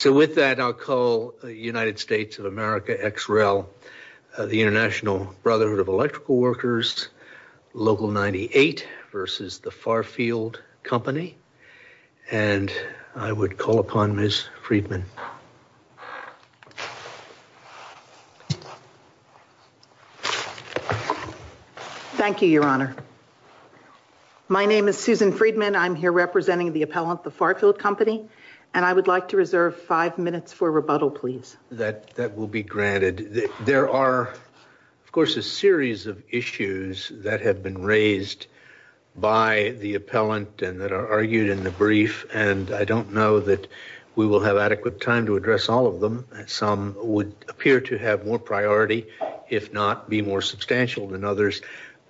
So with that, I'll call the United States of America Ex Rel, the International Brotherhood of Electrical Workers, Local 98 v. The Farfield Company, and I would call upon Ms. Friedman. Thank you, Your Honor. My name is Susan Friedman, I'm here representing the appellant, The Farfield Company, and I would like to reserve five minutes for rebuttal, please. That will be granted. There are, of course, a series of issues that have been raised by the appellant and that are argued in the brief, and I don't know that we will have adequate time to address all of them. Some would appear to have more priority, if not be more substantial than others.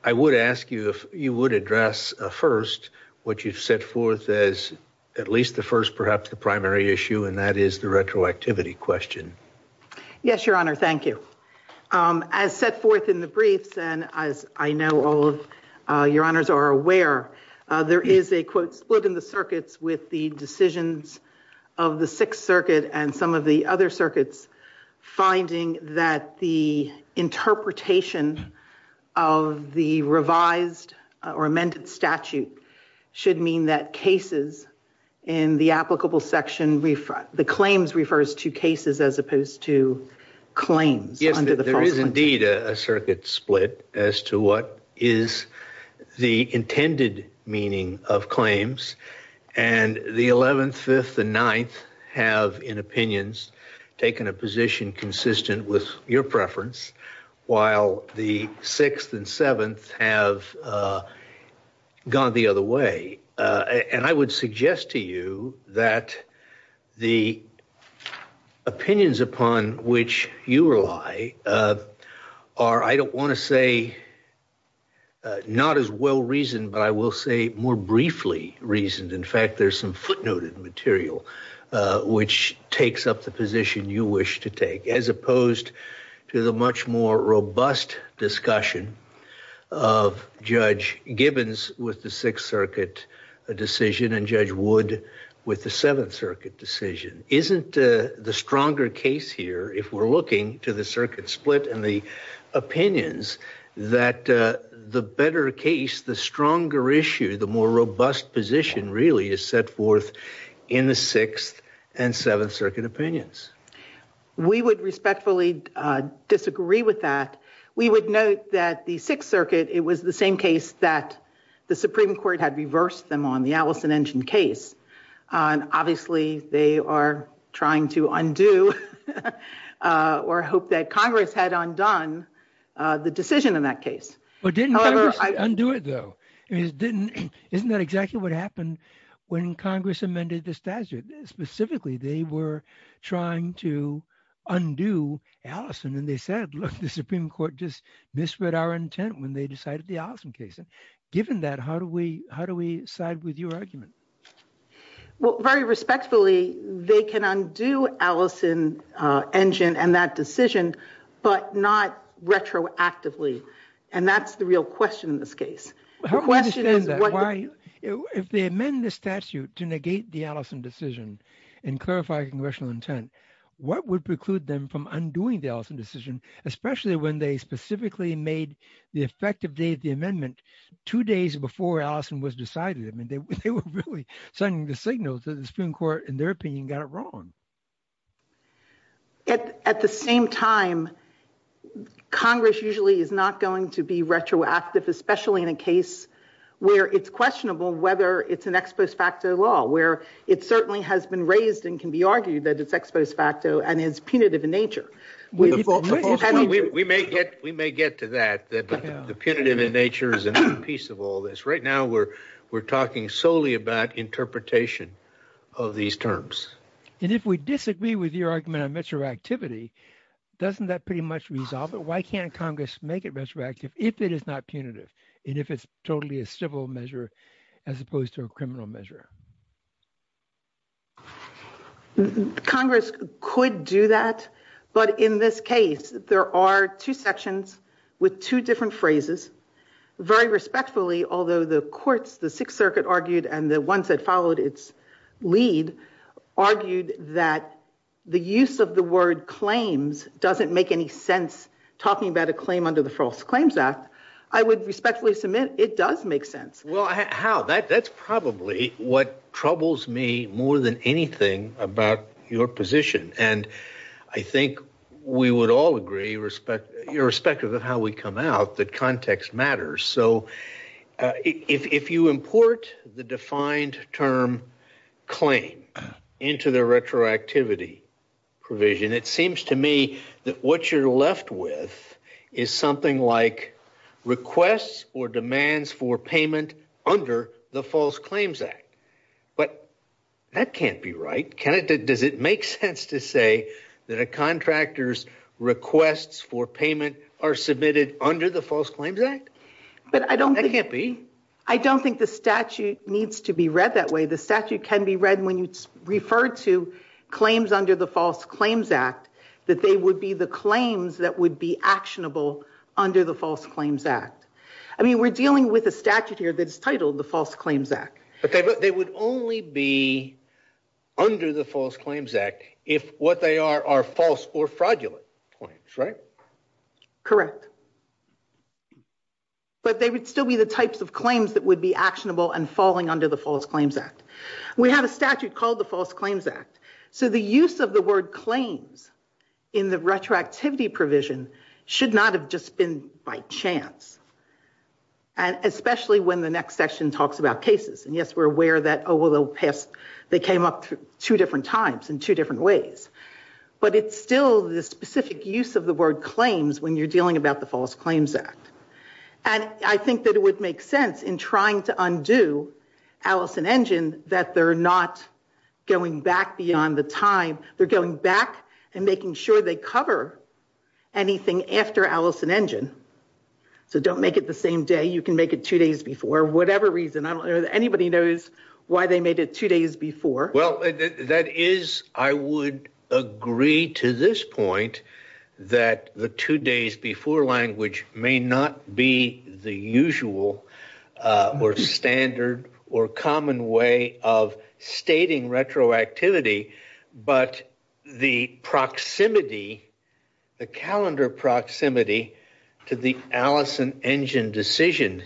I would ask you if you would address first what you've set forth as at least the first, perhaps the primary issue, and that is the retroactivity question. Yes, Your Honor. Thank you. As set forth in the brief, and as I know all of Your Honors are aware, there is a quote split in the circuits with the decisions of the Sixth Circuit and some of the other circuits finding that the interpretation of the revised or amended statute should mean that cases in the applicable section, the claims refers to cases as opposed to claims under the Farfield Company. Yes, but there is indeed a circuit split as to what is the intended meaning of claims, and the Eleventh, Fifth, and Ninth have, in opinions, taken a position consistent with your preference, while the Sixth and Seventh have gone the other way, and I would suggest to you that the opinions upon which you rely are, I don't want to say not as well reasoned, but I will say more briefly reasoned. In fact, there's some footnoted material which takes up the position you wish to take, as opposed to the much more robust discussion of Judge Gibbons with the Sixth Circuit decision and Judge Wood with the Seventh Circuit decision. Isn't the stronger case here, if we're looking to the circuit split and the opinions, that the better case, the stronger issue, the more robust position really is set forth in the Sixth and Seventh Circuit opinions? We would respectfully disagree with that. We would note that the Sixth Circuit, it was the same case that the Supreme Court had reversed them on, the Allison-Engin case, and obviously they are trying to undo, or hope that Congress had undone, the decision in that case. But didn't Congress undo it, though? Isn't that exactly what happened when Congress amended this statute? Specifically, they were trying to undo Allison, and they said, look, the Supreme Court just misread our intent when they decided the Allison case. Given that, how do we side with your argument? Well, very respectfully, they can undo Allison-Engin and that decision, but not retroactively, and that's the real question in this case. How do we understand that? If they amend the statute to negate the Allison decision and clarify congressional intent, what would preclude them from undoing the Allison decision, especially when they specifically made the effective date of the amendment two days before Allison was decided? I mean, they were really sending the signal to the Supreme Court, in their opinion, got it wrong. At the same time, Congress usually is not going to be retroactive, especially in a case where it's questionable whether it's an ex post facto law, where it certainly has been raised and can be argued that it's ex post facto and is punitive in nature. We may get to that, that the punitive in nature is a piece of all this. Right now, we're talking solely about interpretation of these terms. And if we disagree with your argument on retroactivity, doesn't that pretty much resolve it? Why can't Congress make it retroactive if it is not punitive, and if it's totally a civil measure as opposed to a criminal measure? Congress could do that, but in this case, there are two sections with two different phrases. Very respectfully, although the courts, the Sixth Circuit argued and the ones that followed its lead, argued that the use of the word claims doesn't make any sense. Talking about a claim under the False Claims Act, I would respectfully submit it does make sense. Well, how? That's probably what troubles me more than anything about your position. And I think we would all agree, irrespective of how we come out, that context matters. So if you import the defined term claim into the retroactivity provision, it seems to me that what you're left with is something like requests or demands for payment under the False Claims Act. But that can't be right. Does it make sense to say that a contractor's That can't be. I don't think the statute needs to be read that way. The statute can be read when it's referred to claims under the False Claims Act, that they would be the claims that would be actionable under the False Claims Act. I mean, we're dealing with a statute here that's titled the False Claims Act. Okay, but they would only be under the False Claims Act if what they are are false or fraudulent claims, right? Correct. But they would still be the types of claims that would be actionable and falling under the False Claims Act. We have a statute called the False Claims Act. So the use of the word claims in the retroactivity provision should not have just been by chance. And especially when the next session talks about cases. And yes, we're aware that, oh, well, they'll pass. They came up two different times in two different ways. But it's still the specific use of the word claims when you're dealing about the False Claims Act. And I think that it would make sense in trying to undo Allison-Engin that they're not going back beyond the time. They're going back and making sure they cover anything after Allison-Engin. So don't make it the same day. You can make it two days before, whatever reason. I don't know that anybody knows why they made it two days before. Well, that is, I would agree to this point that the two days before language may not be the usual or standard or common way of stating retroactivity. But the proximity, the calendar proximity to the Allison-Engin decision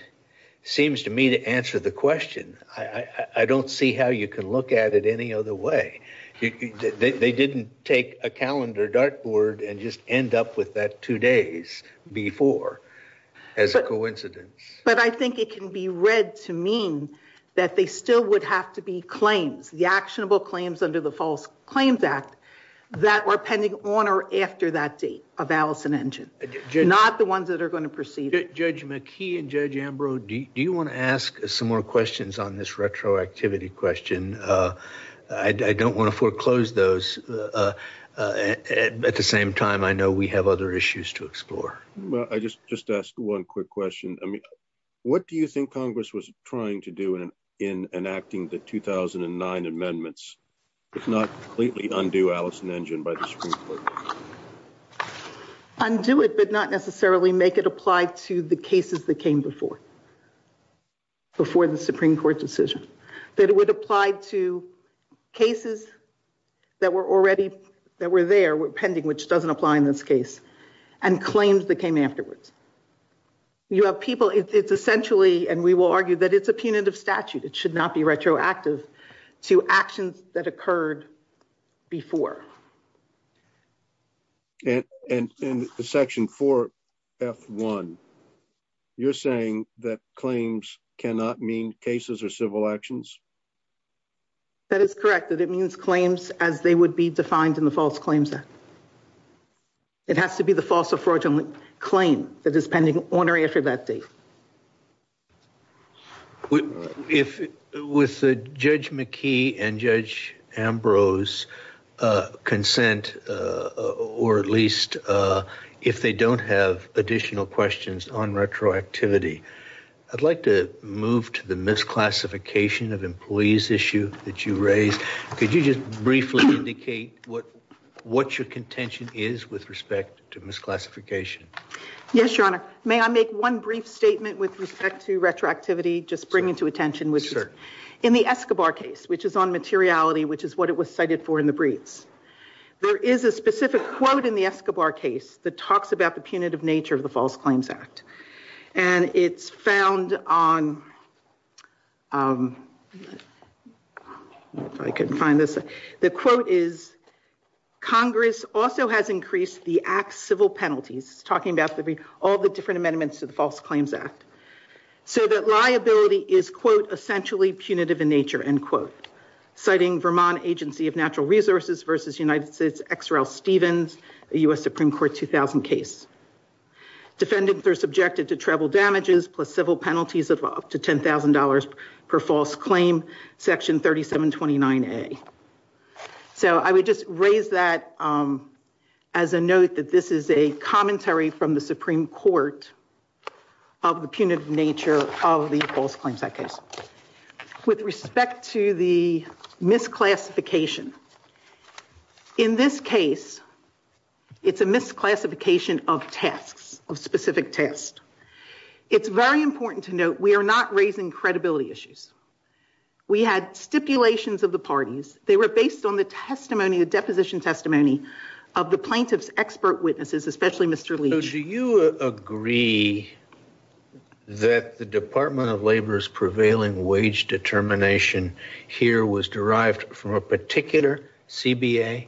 seems to me to answer the question. I don't see how you can look at it any other way. They didn't take a calendar dartboard and just end up with that two days before as a coincidence. But I think it can be read to mean that they still would have to be claims, the actionable claims under the False Claims Act that were pending on or after that date of Allison-Engin, not the ones that are going to proceed. Judge McKee and Judge Ambrose, do you want to ask some more questions on this retroactivity question? I don't want to foreclose those. At the same time, I know we have other issues to explore. Well, I just asked one quick question. I mean, what do you think Congress was trying to do in enacting the 2009 amendments, if not completely undo Allison-Engin by the Supreme Court? Undo it, but not necessarily make it apply to the cases that came before. The Supreme Court's decision that it would apply to cases that were already, that were there, were pending, which doesn't apply in this case, and claims that came afterwards. You have people, it's essentially, and we will argue that it's a punitive statute. It should not be retroactive to actions that occurred before. And in the Section 4, F1, you're saying that claims cannot mean cases or civil actions? That is correct, that it means claims as they would be defined in the false claims act. It has to be the false or fraudulent claim that is pending on or after that date. With Judge McKee and Judge Ambrose's consent, or at least if they don't have additional questions on retroactivity, I'd like to move to the misclassification of employees issue that you raised. Could you just briefly indicate what your contention is with respect to misclassification? Yes, Your Honor. May I make one brief statement with respect to retroactivity, just bringing to attention? In the Escobar case, which is on materiality, which is what it was cited for in the briefs, there is a specific quote in the Escobar case that talks about the punitive nature of the false claims act. And it's found on, if I can find this, the quote is, Congress also has increased the act's civil penalties, talking about all the different amendments to the false claims act, so that liability is, quote, essentially punitive in nature, end quote, citing Vermont Agency of Natural Resources versus United States XRL Stevens, a U.S. Supreme Court 2000 case. Defendants are subjected to travel damages plus civil penalties up to $10,000 per false claim, section 3729A. So I would just raise that as a note that this is a commentary from the Supreme Court of the punitive nature of the false claims act case. With respect to the misclassification, in this case, it's a misclassification of tests, of specific tests. It's very important to note we are not raising credibility issues. We had stipulations of the parties. They were based on the testimony, the deposition testimony, of the plaintiff's expert witnesses, especially Mr. Lee. So do you agree that the Department of Labor's prevailing wage determination here was derived from a particular CBA?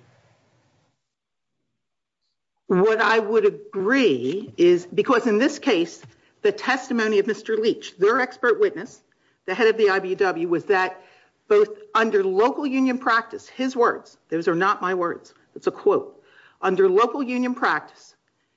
What I would agree is, because in this case, the testimony of Mr. Leach, their expert witness, the head of the IBEW, was that both under local union practice, his words, those are not my words, it's a quote, under local union practice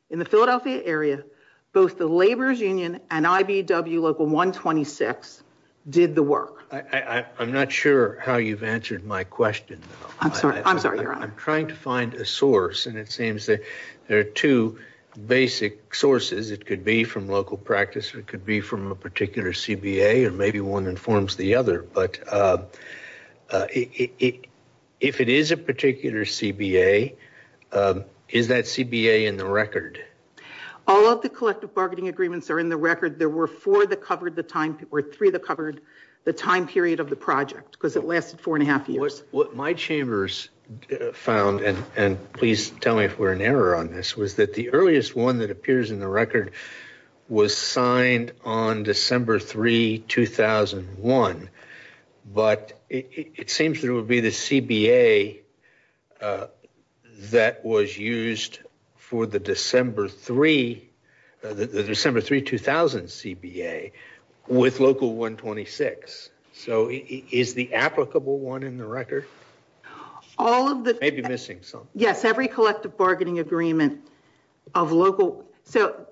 in the Philadelphia area, both the Labor's Union and IBEW Local 126 did the work. I'm not sure how you've answered my question. I'm sorry. I'm trying to find a source, and it seems that there are two basic sources. It could be from local practice. It could be from a particular CBA, or maybe one informs the other. But if it is a particular CBA, is that CBA in the record? All of the collective bargaining agreements are in the record. There were four that covered the time, or three that covered the time period of the project, because it lasted four and a half years. What my chambers found, and please tell me if we're in error on this, was that the earliest one that appears in the record was signed on December 3, 2001. But it seems that it would be the CBA that was used for the December 3, the December 3, 2000 CBA, with Local 126. So is the applicable one in the record? Maybe missing something. Yes, every collective bargaining agreement of local... So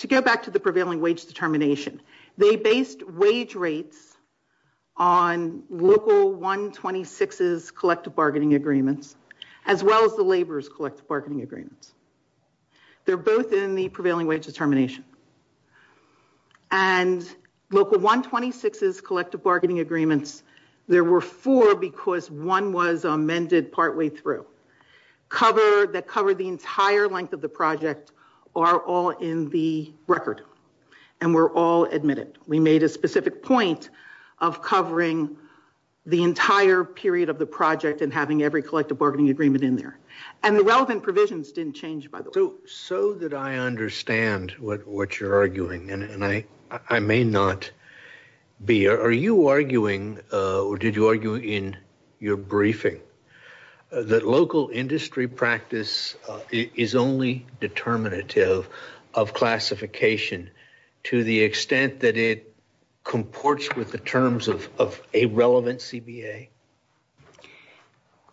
to go back to the prevailing wage determination, they based wage rates on Local 126's collective bargaining agreements, as well as the Labor's collective bargaining agreements. They're both in the prevailing wage determination. And Local 126's collective bargaining agreements, there were four, because one was amended partly through. That covered the entire length of the project, are all in the record, and were all admitted. We made a specific point of covering the entire period of the project and having every collective bargaining agreement in there. And the relevant provisions didn't change, by the way. So that I understand what you're arguing, and I may not be. Are you arguing, or did you argue in your briefing, that local industry practice is only determinative of classification, to the extent that it comports with the terms of a relevant CBA?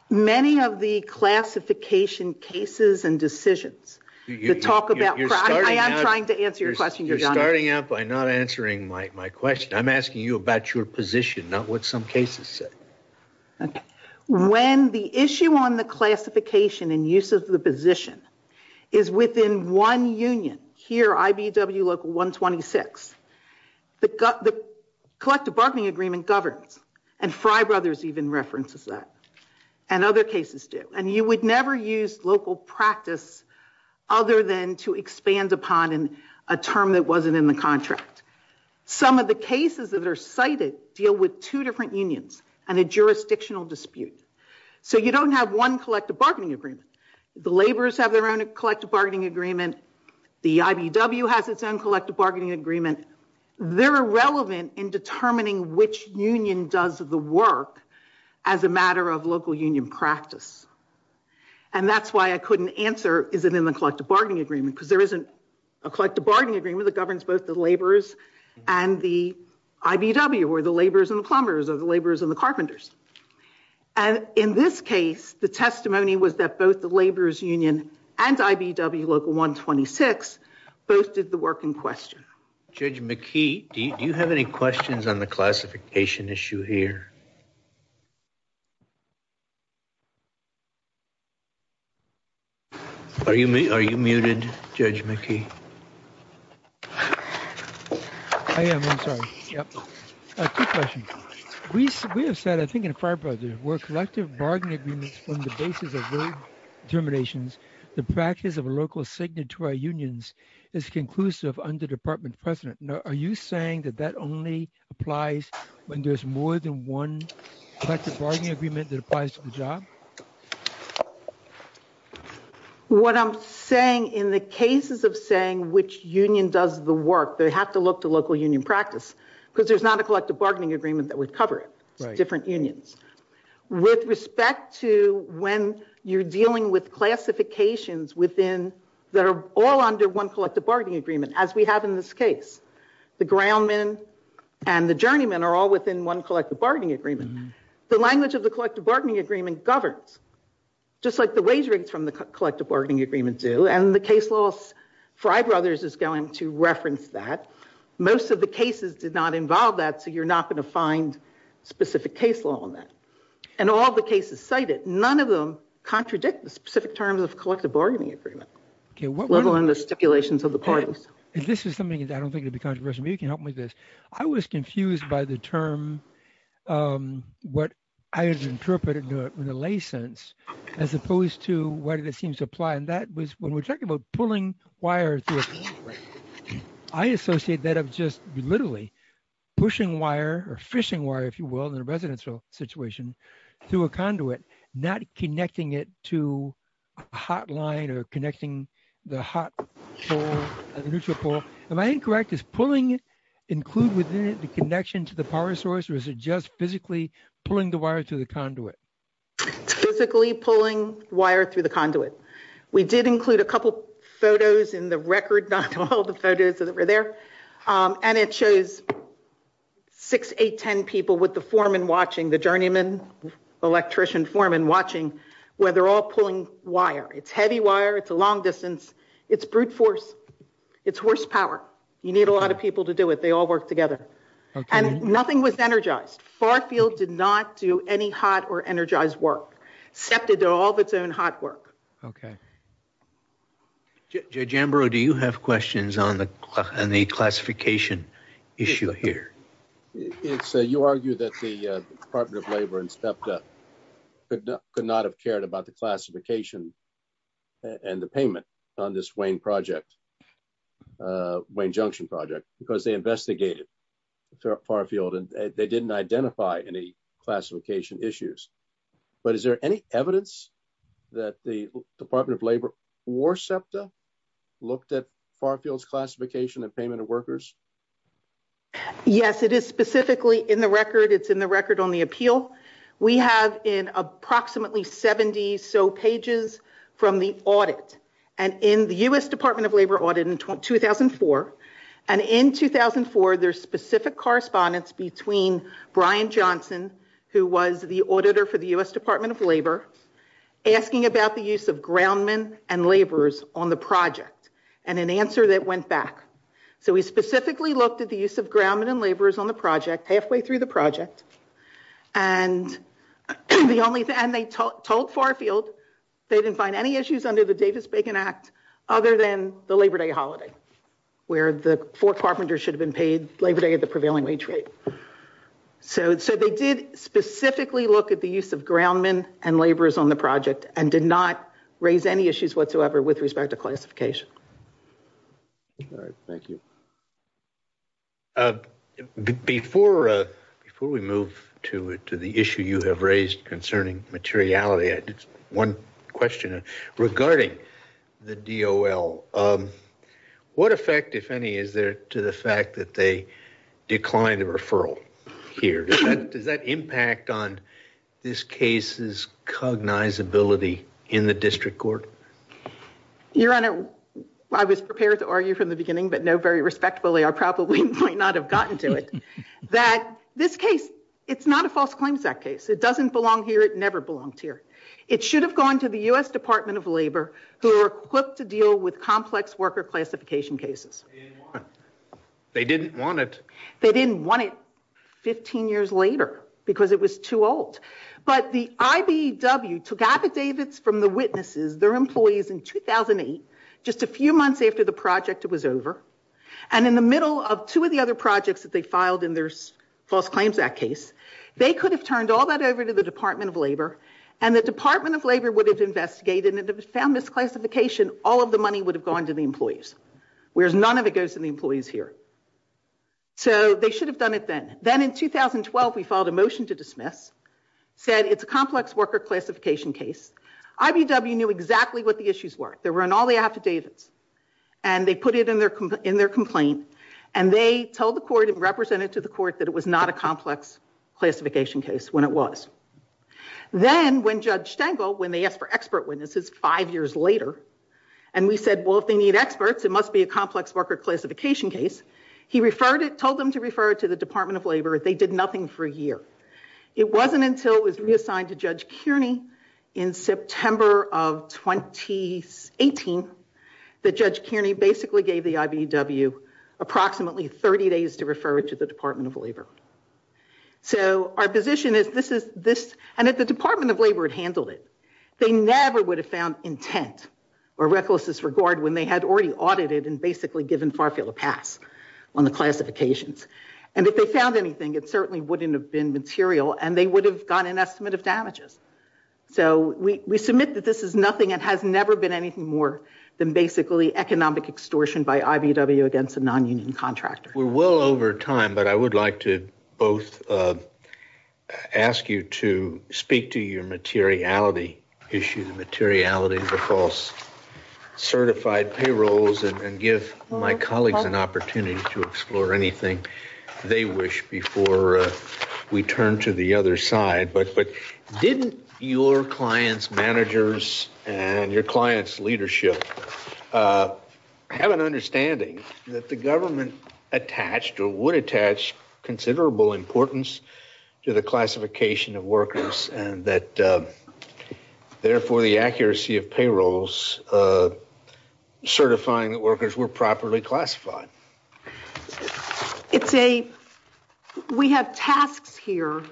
Many of the classification cases and decisions, to talk about... I am trying to answer your question. You're starting out by not answering my question. I'm asking you about your position, not what some cases say. Okay. When the issue on the classification and use of the position is within one union, here, IBW Local 126, the collective bargaining agreement governs, and Fry Brothers even references that, and other cases do. And you would never use local practice other than to expand upon a term that wasn't in the contract. Some of the cases that are cited deal with two different unions and a jurisdictional dispute. So you don't have one collective bargaining agreement. The laborers have their own collective bargaining agreement. The IBW has its own collective bargaining agreement. They're relevant in determining which union does the work as a matter of local union practice. And that's why I couldn't answer, is it in the collective bargaining agreement? Because there isn't a collective bargaining agreement that governs both the laborers and the IBW, or the laborers and the plumbers, or the laborers and the carpenters. And in this case, the testimony was that both the laborers union and IBW Local 126 posted the work in question. Judge McKee, do you have any questions on the classification issue here? Are you muted, Judge McKee? I am, I'm sorry. Two questions. We have said, I think in Fry Brothers, where collective bargaining agreements form the basis of road determinations, the practice of local signatory unions is conclusive under department precedent. Now, are you saying that that only applies when there's more than one collective bargaining agreement that applies to the job? What I'm saying, in the cases of saying which union does the work, they have to look to local union practice, because there's not a collective bargaining agreement that would cover it, different unions. With respect to when you're dealing with classifications that are all under one collective bargaining agreement, as we have in this case, the groundmen and the journeymen are all within one collective bargaining agreement. The language of the collective bargaining agreement governs, just like the wagering from the collective bargaining agreement do, and the case laws, Fry Brothers is going to reference that. Most of the cases did not find specific case law on that, and all the cases cited, none of them contradict the specific terms of the collective bargaining agreement, let alone the stipulations of the parties. This is something that I don't think would be controversial, but you can help me with this. I was confused by the term, what I interpreted in a lay sense, as opposed to what it seems to apply, and that was when we're talking about pulling wires, I associate that of just literally pushing wire, or fishing wire, if you will, in a residential situation through a conduit, not connecting it to a hot line or connecting the hot pole, the neutral pole. Am I incorrect? Is pulling included within the connection to the power source, or is it just physically pulling the wire through the conduit? Physically pulling wire through the conduit. We did include a couple photos in the record, not all the photos that were there, and it shows 6, 8, 10 people with the foreman watching, the journeyman, electrician foreman watching, where they're all pulling wire. It's heavy wire, it's a long distance, it's brute force, it's horsepower. You need a lot of people to do it. They all work together. Nothing was energized. Farfield did not do any hot or energized work, SEPTA did all of its own hot work. Okay. Judge Ambrose, do you have questions on the classification issue here? You argue that the Department of Labor and SEPTA could not have cared about the classification and the payment on this Wayne project, Wayne Junction project, because they investigated Farfield and they didn't identify any classification issues, but is there any evidence that the Department of Labor or SEPTA looked at Farfield's classification and payment of workers? Yes, it is specifically in the record, it's in the record on the appeal. We have in approximately 70 so pages from the audit, and in the U.S. Department of Labor audit in 2004, and in 2004, there's specific correspondence between Brian Johnson, who was the auditor for the U.S. Department of Labor, asking about the use of groundmen and laborers on the project, and an answer that went back. So we specifically looked at the use of groundmen and laborers on the project, halfway through the project, and the only thing they told Farfield, they didn't find any issues under the Davis-Bacon Act, other than the Labor Day holiday, where the four carpenters should have been paid Labor Day at the prevailing wage rate. So they did specifically look at the use of groundmen and laborers on the project, and did not raise any issues whatsoever with respect to classification. All right, thank you. Before we move to the issue you have raised concerning materiality, one question regarding the DOL. What effect, if any, is there to the fact that they declined a referral here? Does that impact on this case's cognizability in the district court? Your Honor, I was prepared to argue from the beginning, but no, very respectfully, I probably might not have gotten to it, that this case, it's not a false claims act case. It doesn't belong here. It never belonged here. It should have gone to the U.S. Department of Labor, who are equipped to deal with complex worker classification cases. They didn't want it. They didn't want it 15 years later, because it was too old. But the IBEW took out the Davis from the witnesses, their employees, in 2008, just a few months after the project was over, and in the middle of two of the other projects that they filed in their false claims act case, they could have turned all that over to the Department of Labor, and the Department of Labor would have investigated, and if it found this classification, all of the money would have gone to the employees, whereas none of it goes to the employees here. So they should have done it then. Then in 2012, we filed a motion to dismiss, said it's a complex worker classification case. IBEW knew exactly what the issues were. They were on all the affidavits, and they put it in their complaint, and they told the court and represented to the court that it was not a complex classification case when it was. Then when Judge Stengel, when they asked for expert witnesses five years later, and we said, well, if they need experts, it must be a complex worker classification case, he referred it, told them to refer it to the Department of Labor. They did nothing for a year. It wasn't until it was reassigned to Judge Kearney in September of 2018 that Judge Kearney basically gave the IBEW approximately 30 days to refer it to the Department of Labor. So our position is this, and if the Department of Labor had handled it, they never would have found intent or reckless disregard when they had already audited and basically given Farfield a pass on the classifications, and if they found anything, it certainly wouldn't have been material, and they would have done an estimate of damages. So we submit that this is nothing and has never been anything more than basically economic extortion by IBEW against a non-union contractor. We're well over time, but I would like to both ask you to speak to your materiality issue, the materiality of the false certified payrolls, and give my colleagues an opportunity to explore anything they wish before we turn to the other side. But didn't your clients' managers and your clients' leadership have an understanding that the government attached or would attach considerable importance to the classification of workers, and that therefore the accuracy of payrolls certifying workers were properly classified? We have tasks here.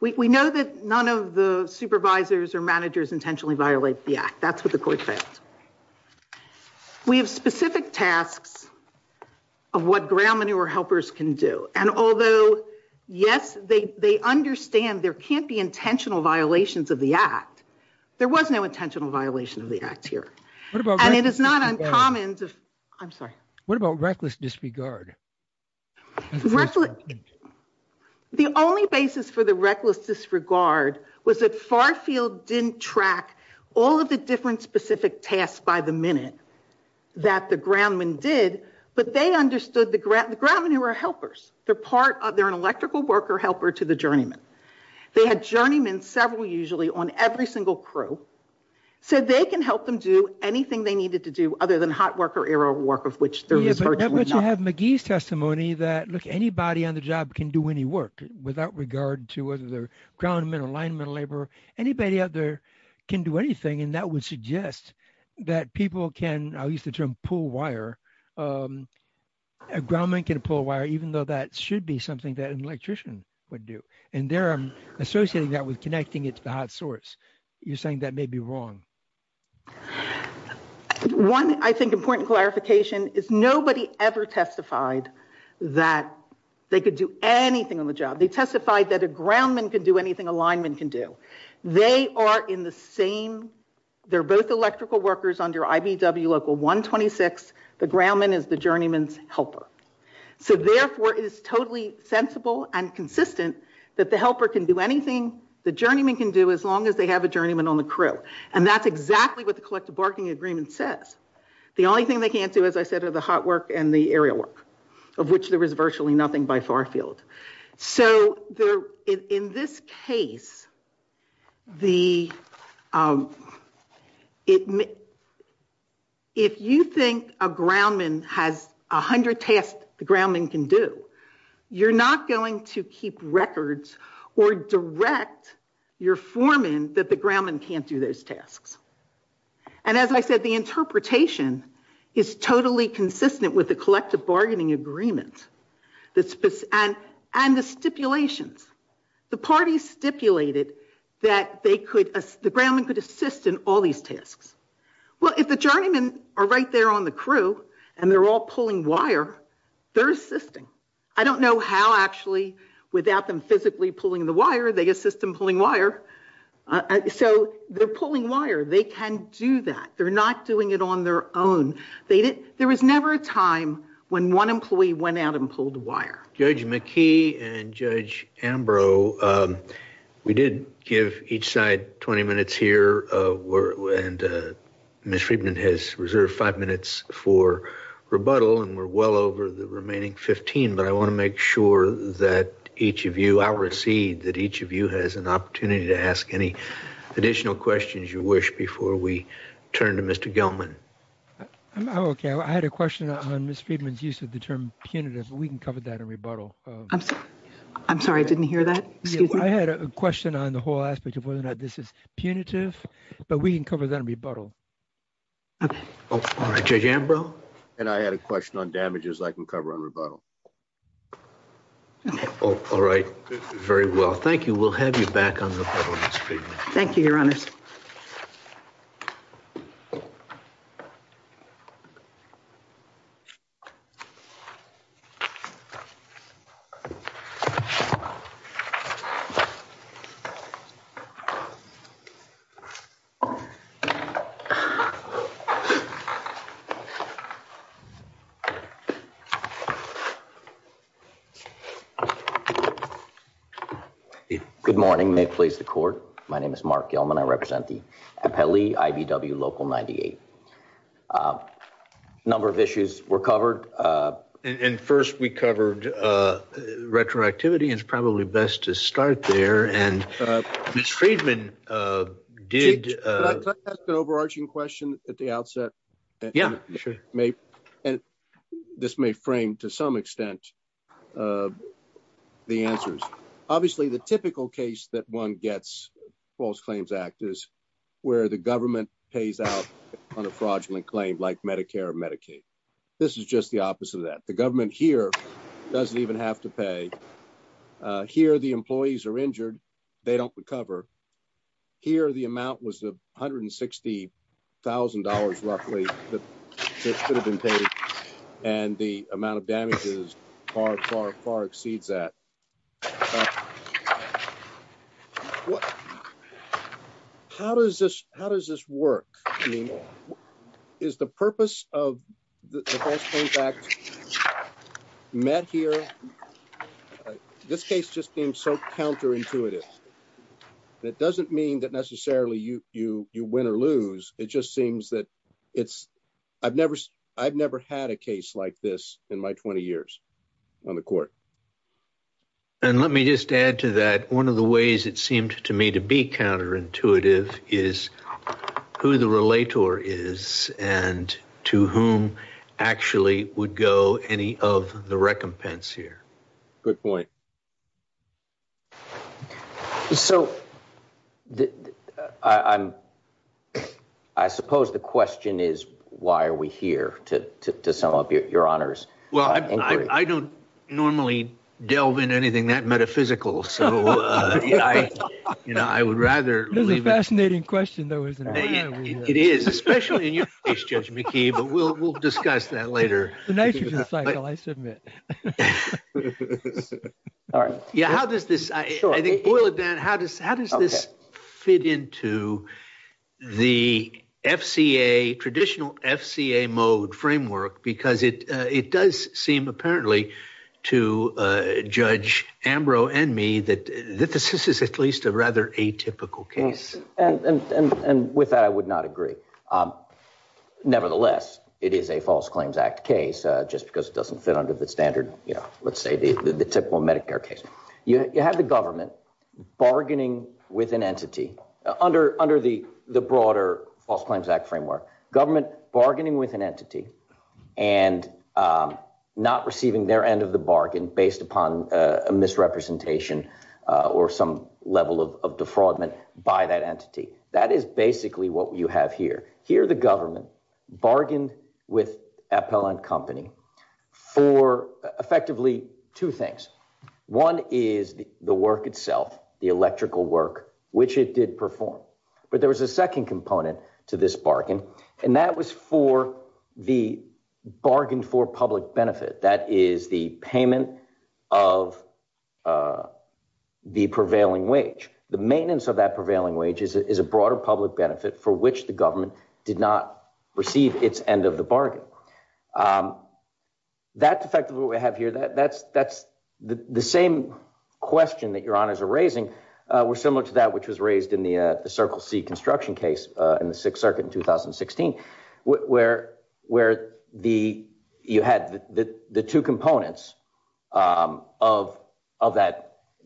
We know that the supervisors or managers intentionally violate the Act. That's what the court says. We have specific tasks of what ground manure helpers can do, and although, yes, they understand there can't be intentional violations of the Act. There was no intentional violation of the Act here, and it is not uncommon. I'm sorry. What about reckless disregard? The only basis for the reckless disregard was that Farfield didn't track all of the different specific tasks by the minute that the ground men did, but they understood the ground manure helpers. They're an electrical worker helper to the journeymen. They had journeymen, several usually, on every single crew, so they can help them do anything they needed to do other than hot work of which there is virtually none. But you have McGee's testimony that, look, anybody on the job can do any work without regard to whether they're ground men or line men or laborer. Anybody out there can do anything, and that would suggest that people can, I'll use the term pull wire, a ground man can pull wire even though that should be something that an electrician would do, and they're associating that with connecting it to the hot source. You're saying that may be wrong. One, I think, important clarification is nobody ever testified that they could do anything on the job. They testified that a ground man can do anything a line man can do. They are in the same, they're both electrical workers under IBW Local 126. The ground man is the journeyman's helper. So therefore, it is totally sensible and consistent that the helper can do anything the journeyman can do as long as they have a journeyman on the crew, and that's exactly what the collective bargaining agreement says. The only thing they can't do, as I said, are the hot work and the aerial work of which there is virtually nothing by far field. So in this case, if you think a ground man has 100 tasks the ground man can do, you're not going to keep records or direct your foreman that the ground man can't do those tasks. And as I said, the interpretation is totally consistent with the collective bargaining agreement and the stipulations. The party stipulated that they could, the ground man could assist in all these tasks. Well, if the journeyman are right there on the crew and they're all pulling wire, they're assisting. I don't know how, actually, without them physically pulling the wire, they assist them pulling wire. So they're pulling wire. They can do that. They're not doing it on their own. There was never a time when one employee went out and pulled the wire. Judge McKee and Judge Ambrose, we did give each side 20 minutes here, and Ms. Friedman has rebuttal, and we're well over the remaining 15. But I want to make sure that each of you, I'll recede, that each of you has an opportunity to ask any additional questions you wish before we turn to Mr. Gelman. Okay. I had a question on Ms. Friedman's use of the term punitive, but we can cover that in rebuttal. I'm sorry, I didn't hear that. I had a question on the whole aspect of whether or not this is punitive, but we can cover that in rebuttal. Judge Ambrose? And I had a question on damages I can cover in rebuttal. All right. Very well. Thank you. We'll have you back on rebuttal, Ms. Friedman. Thank you, Your Honor. Thank you. Good morning. May it please the Court? My name is Mark Gelman. I represent the Appellee IDW Local 98. A number of issues were covered. And first we covered retroactivity. It's probably best to start there. And Ms. Friedman did... Can I ask an overarching question at the outset? Yeah, sure. And this may frame to some extent the answers. Obviously, the typical case that one gets in the False Claims Act is where the government pays out on a fraudulent claim like Medicare or Medicaid. This is just the opposite of that. The government here doesn't even have to pay. Here the employees are injured. They don't recover. Here the amount was $160,000 roughly that could have been paid. And the amount of damages far, far, far exceeds that. How does this work? I mean, is the purpose of the False Claims Act counterintuitive? That doesn't mean that necessarily you win or lose. It just seems that it's... I've never had a case like this in my 20 years on the Court. And let me just add to that. One of the ways it seemed to me to be counterintuitive is who the relator is and to whom actually would go any of the recompense here. Good point. So I suppose the question is, why are we here, to sum up your honors? Well, I don't normally delve in anything that metaphysical, so I would rather... This is a fascinating question, though, isn't it? It is, especially in your case, Judge McKee, but we'll discuss that later. The nature of the cycle, I submit. All right. Yeah. How does this fit into the FCA, traditional FCA mode framework? Because it does seem apparently to Judge Ambrose and me that this is at least a rather atypical case. And with that, I would not agree. Nevertheless, it is a False Claims Act case, just because it doesn't fit under the standard, let's say, the typical Medicare case. You have the government bargaining with an entity under the broader False Claims Act framework, government bargaining with an entity and not receiving their end of the bargain based upon a misrepresentation or some entity. That is basically what you have here. Here, the government bargained with Appellant Company for effectively two things. One is the work itself, the electrical work, which it did perform. But there was a second component to this bargain, and that was for the bargain for public benefit. That is the payment of the prevailing wage. The maintenance of that prevailing wage is a broader public benefit for which the government did not receive its end of the bargain. That's effectively what we have here. That's the same question that your honors are raising. We're similar to that which was raised in the Circle C construction case in the Sixth Circuit in 2016, where you had the two components of that,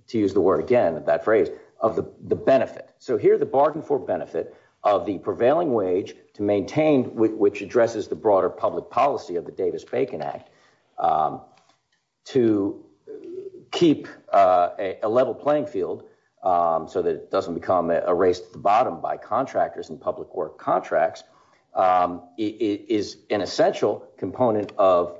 to use the word again, that phrase, of the benefit. Here, the bargain for benefit of the prevailing wage to maintain, which addresses the broader public policy of the Davis-Bacon Act, to keep a level playing field so that it doesn't become a race to the bottom by contractors and public work contracts, is an essential component of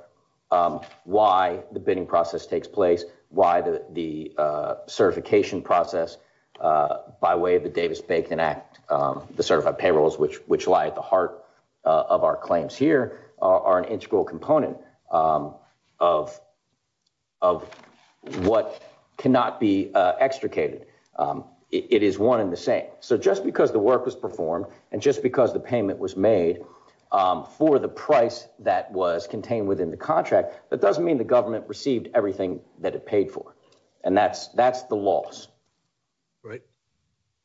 why the bidding process takes place, why the certification process by way of the Davis-Bacon Act, the certified payrolls which lie at the heart of our claims here, are an integral component of what cannot be extricated. It is one and the same. Just because the work was performed, and just because the payment was made for the price that was contained within the contract, that doesn't mean the government received everything that it paid for. That's the loss. Right.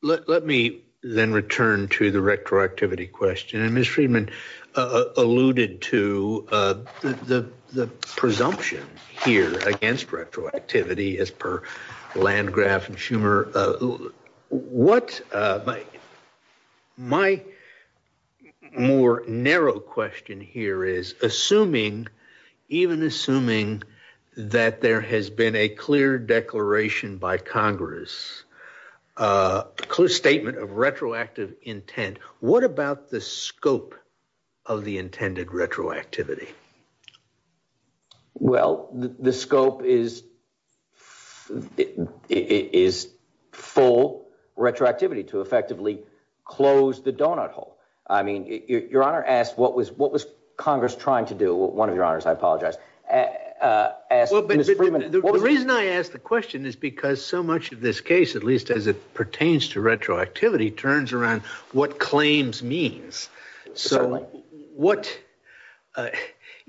Let me then return to the retroactivity question. Ms. Friedman alluded to the presumption here against retroactivity as per Landgraf and Schumer. My more narrow question here is, even assuming that there has been a clear declaration by Congress, clear statement of retroactive intent, what about the scope of the intended retroactivity? Well, the scope is full retroactivity to effectively close the donut hole. I mean, your honor asked what was Congress trying to do, one of your honors, I apologize. The reason I ask the question is because so much of this case, at least as it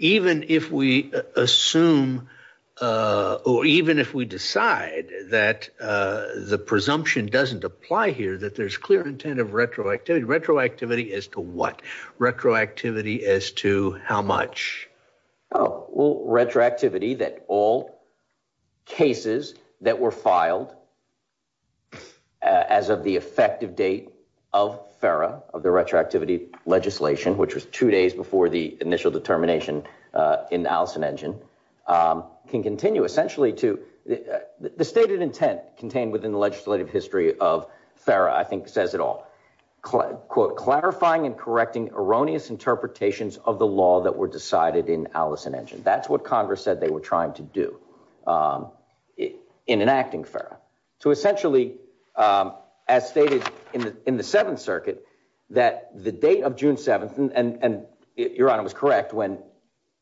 even if we assume, or even if we decide that the presumption doesn't apply here, that there's clear intent of retroactivity. Retroactivity as to what? Retroactivity as to how much? Well, retroactivity that all cases that were filed as of the effective date of FERA, of the retroactivity legislation, which was two termination in Allison Engine, can continue essentially to, the stated intent contained within the legislative history of FERA, I think says it all, quote, clarifying and correcting erroneous interpretations of the law that were decided in Allison Engine. That's what Congress said they were trying to do in enacting FERA. So essentially, as stated in the Seventh Circuit, that the date of June 7th, and your honor was correct when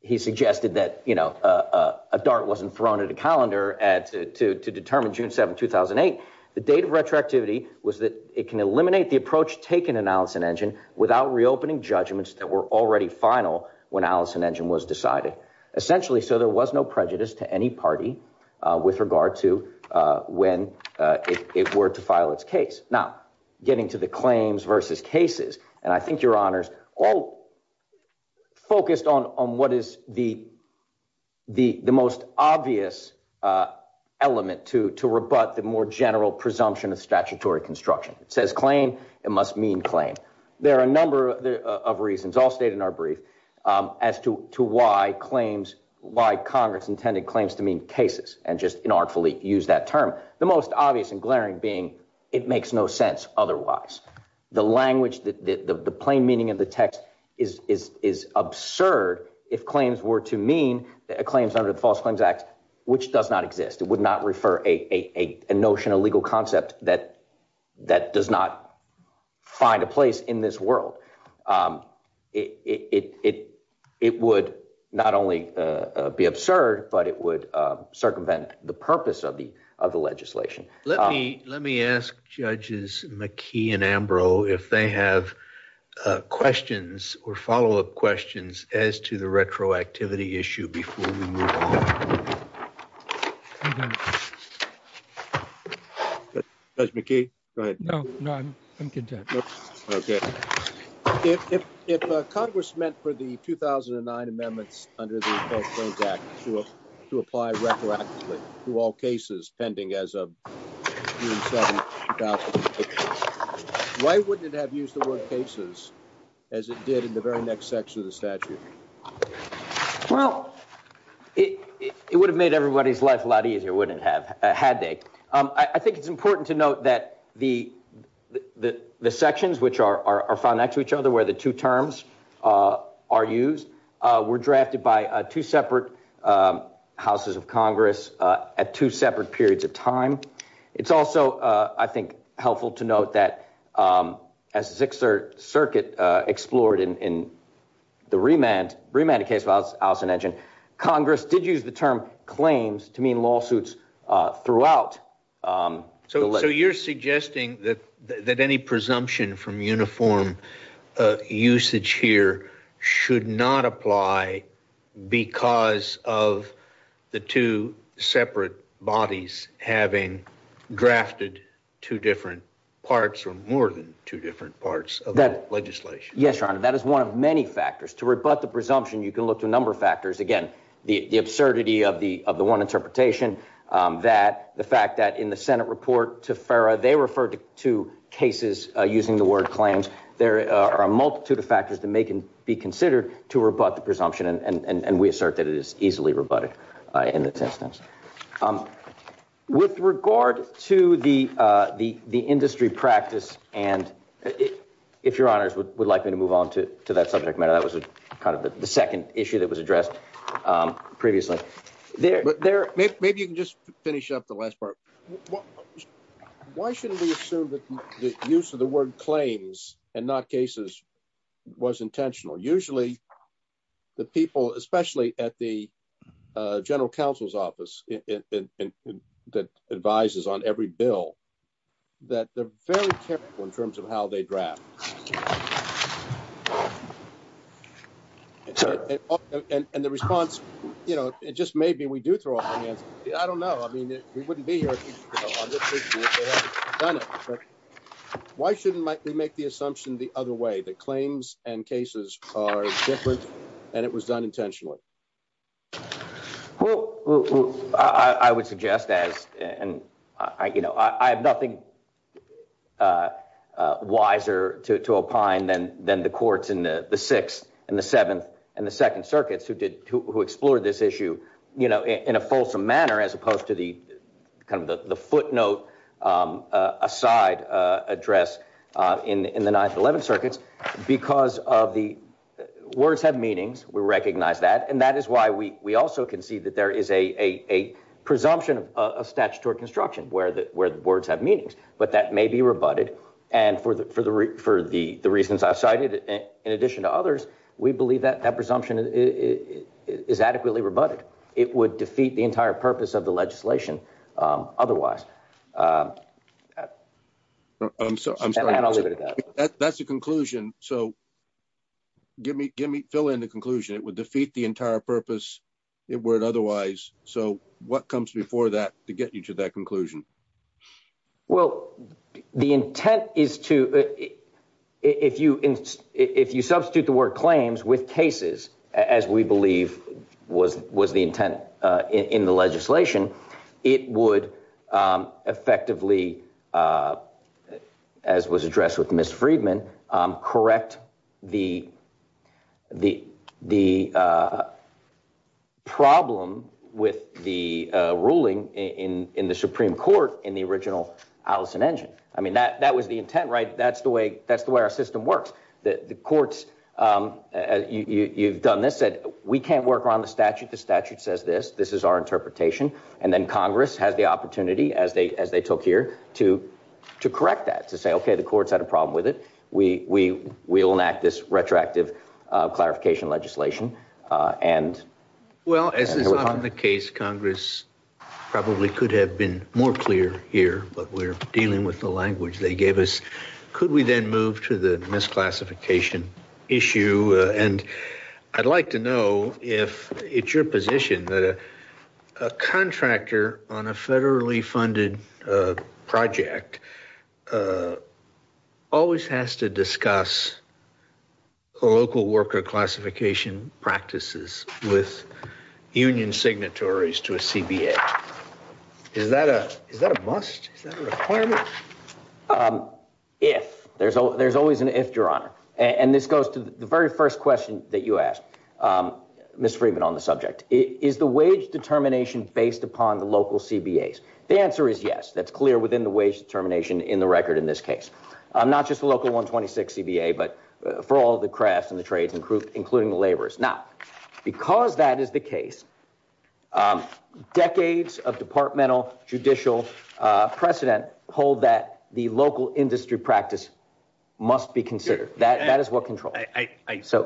he suggested that a dart wasn't thrown at a calendar to determine June 7th, 2008. The date of retroactivity was that it can eliminate the approach taken in Allison Engine without reopening judgments that were already final when Allison Engine was decided. Essentially, so there was no prejudice to any party with regard to when it were to file its case. Now, getting to the claims versus cases, and I think your honors all focused on what is the most obvious element to rebut the more general presumption of statutory construction. It says claim, it must mean claim. There are a number of reasons, all stated in our brief, as to why Congress intended claims to mean cases, and just inartfully used that term. The most obvious and glaring being it makes no sense otherwise. The language, the plain meaning of the text is absurd if claims were to mean claims under the False Claims Act, which does not exist. It would not refer a notion, a legal concept that does not find a place in this world. It would not only be absurd, but it would circumvent the purpose of the legislation. Let me ask judges McKee and Ambrose if they have questions or follow-up questions as to the retroactivity issue before we move on. Judge McKee, go ahead. No, no, I'm content. Okay. If Congress meant for the 2009 amendments under the False Claims Act to apply retroactivity to all cases pending as of June 7, 2016, why wouldn't it have used the word cases as it did in the very next section of the statute? Well, it would have made everybody's life a lot easier, wouldn't it have, had they? I think it's important to note that the sections which are found next to each other, where the two terms are used, were drafted by two separate houses of Congress at two separate periods of time. It's also, I think, helpful to note that as the Circuit explored in the remand case of Allison Edgent, Congress did use the term claims to mean lawsuits throughout. So you're suggesting that any presumption from uniform usage here should not apply because of the two separate bodies having drafted two different parts or more than two different parts of the legislation? Yes, Your Honor, that is one of many factors. To rebut the presumption, you can look at a number of factors. Again, the absurdity of the one interpretation, that the fact that in the Senate report to FERA, they referred to cases using the word claims. There are a multitude of factors that may be considered to rebut the presumption, and we assert that it is easily rebutted in the text. With regard to the industry practice, and if Your Honor would like me to move on to that subject matter, that was kind of the second issue that was addressed previously. Maybe you can just finish up the last part. Why should we assume that the use of the word claims and not cases was intentional? Usually, the people, especially at the General Counsel's Office that advises on every bill, that they're very careful in terms of how they draft. And the response, you know, it just may be we do throw off. I mean, I don't know. I mean, he wouldn't be here. Why shouldn't they make the assumption the other way, that claims and cases are different, and it was done intentionally? Well, I would suggest that, and, you know, I have nothing wiser to opine than the courts in the Sixth and the Seventh and the Second Circuits who explored this issue, you know, in a fulsome manner, as opposed to the kind of the footnote aside address in the Ninth and Eleventh Circuits, because of the words have meanings. We recognize that, and that is why we also concede that there is a presumption of statutory construction where the words have meanings, but that may be rebutted, and for the reasons I cited, in addition to others, we believe that that presumption is adequately rebutted. It would defeat the entire purpose of the legislation otherwise. I'm sorry. That's a conclusion. So give me, fill in the conclusion. It would defeat the presumption for that to get you to that conclusion. Well, the intent is to, if you substitute the word claims with cases, as we believe was the intent in the legislation, it would effectively, as was addressed with Ms. Freedman, correct the problem with the ruling in the Supreme Court in the original Allison-Engin. I mean, that was the intent, right? That's the way our system works. The courts, you've done this, we can't work around the statute. The statute says this. This is our interpretation. And then Congress has the opportunity, as they took here, to correct that, to say, okay, the courts had a problem with it. We will enact this retroactive clarification legislation. Well, as is often the case, Congress probably could have been more clear here, but we're dealing with the language they gave us. Could we then move to the misclassification issue? And I'd like to know if it's your position that a contractor on a federally funded project always has to discuss the local worker classification practices with union signatories to a CBA. Is that a must? Is that a requirement? If. There's always an if, Your Honor. And this first question that you asked, Mr. Freeman, on the subject, is the wage determination based upon the local CBAs? The answer is yes. That's clear within the wage determination in the record in this case. Not just the local 126 CBA, but for all the crafts and the trades, including the laborers. Now, because that is the case, decades of departmental judicial precedent hold that the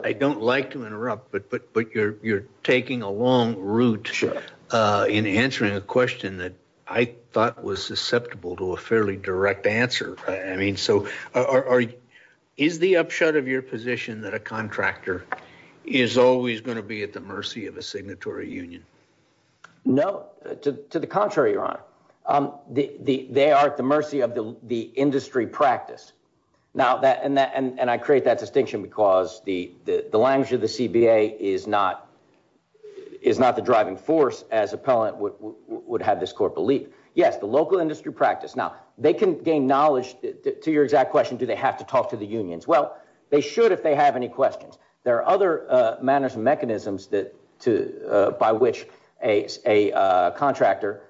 I don't like to interrupt, but you're taking a long route in answering a question that I thought was susceptible to a fairly direct answer. Is the upshot of your position that a contractor is always going to be at the mercy of a signatory union? No, to the contrary, Your Honor. They are at the mercy of the industry practice. And I create that distinction because the language of the CBA is not the driving force, as appellant would have this core belief. Yes, the local industry practice. Now, they can gain knowledge. To your exact question, do they have to talk to the unions? Well, they should if they have any questions. There are other manners and mechanisms to by which a contractor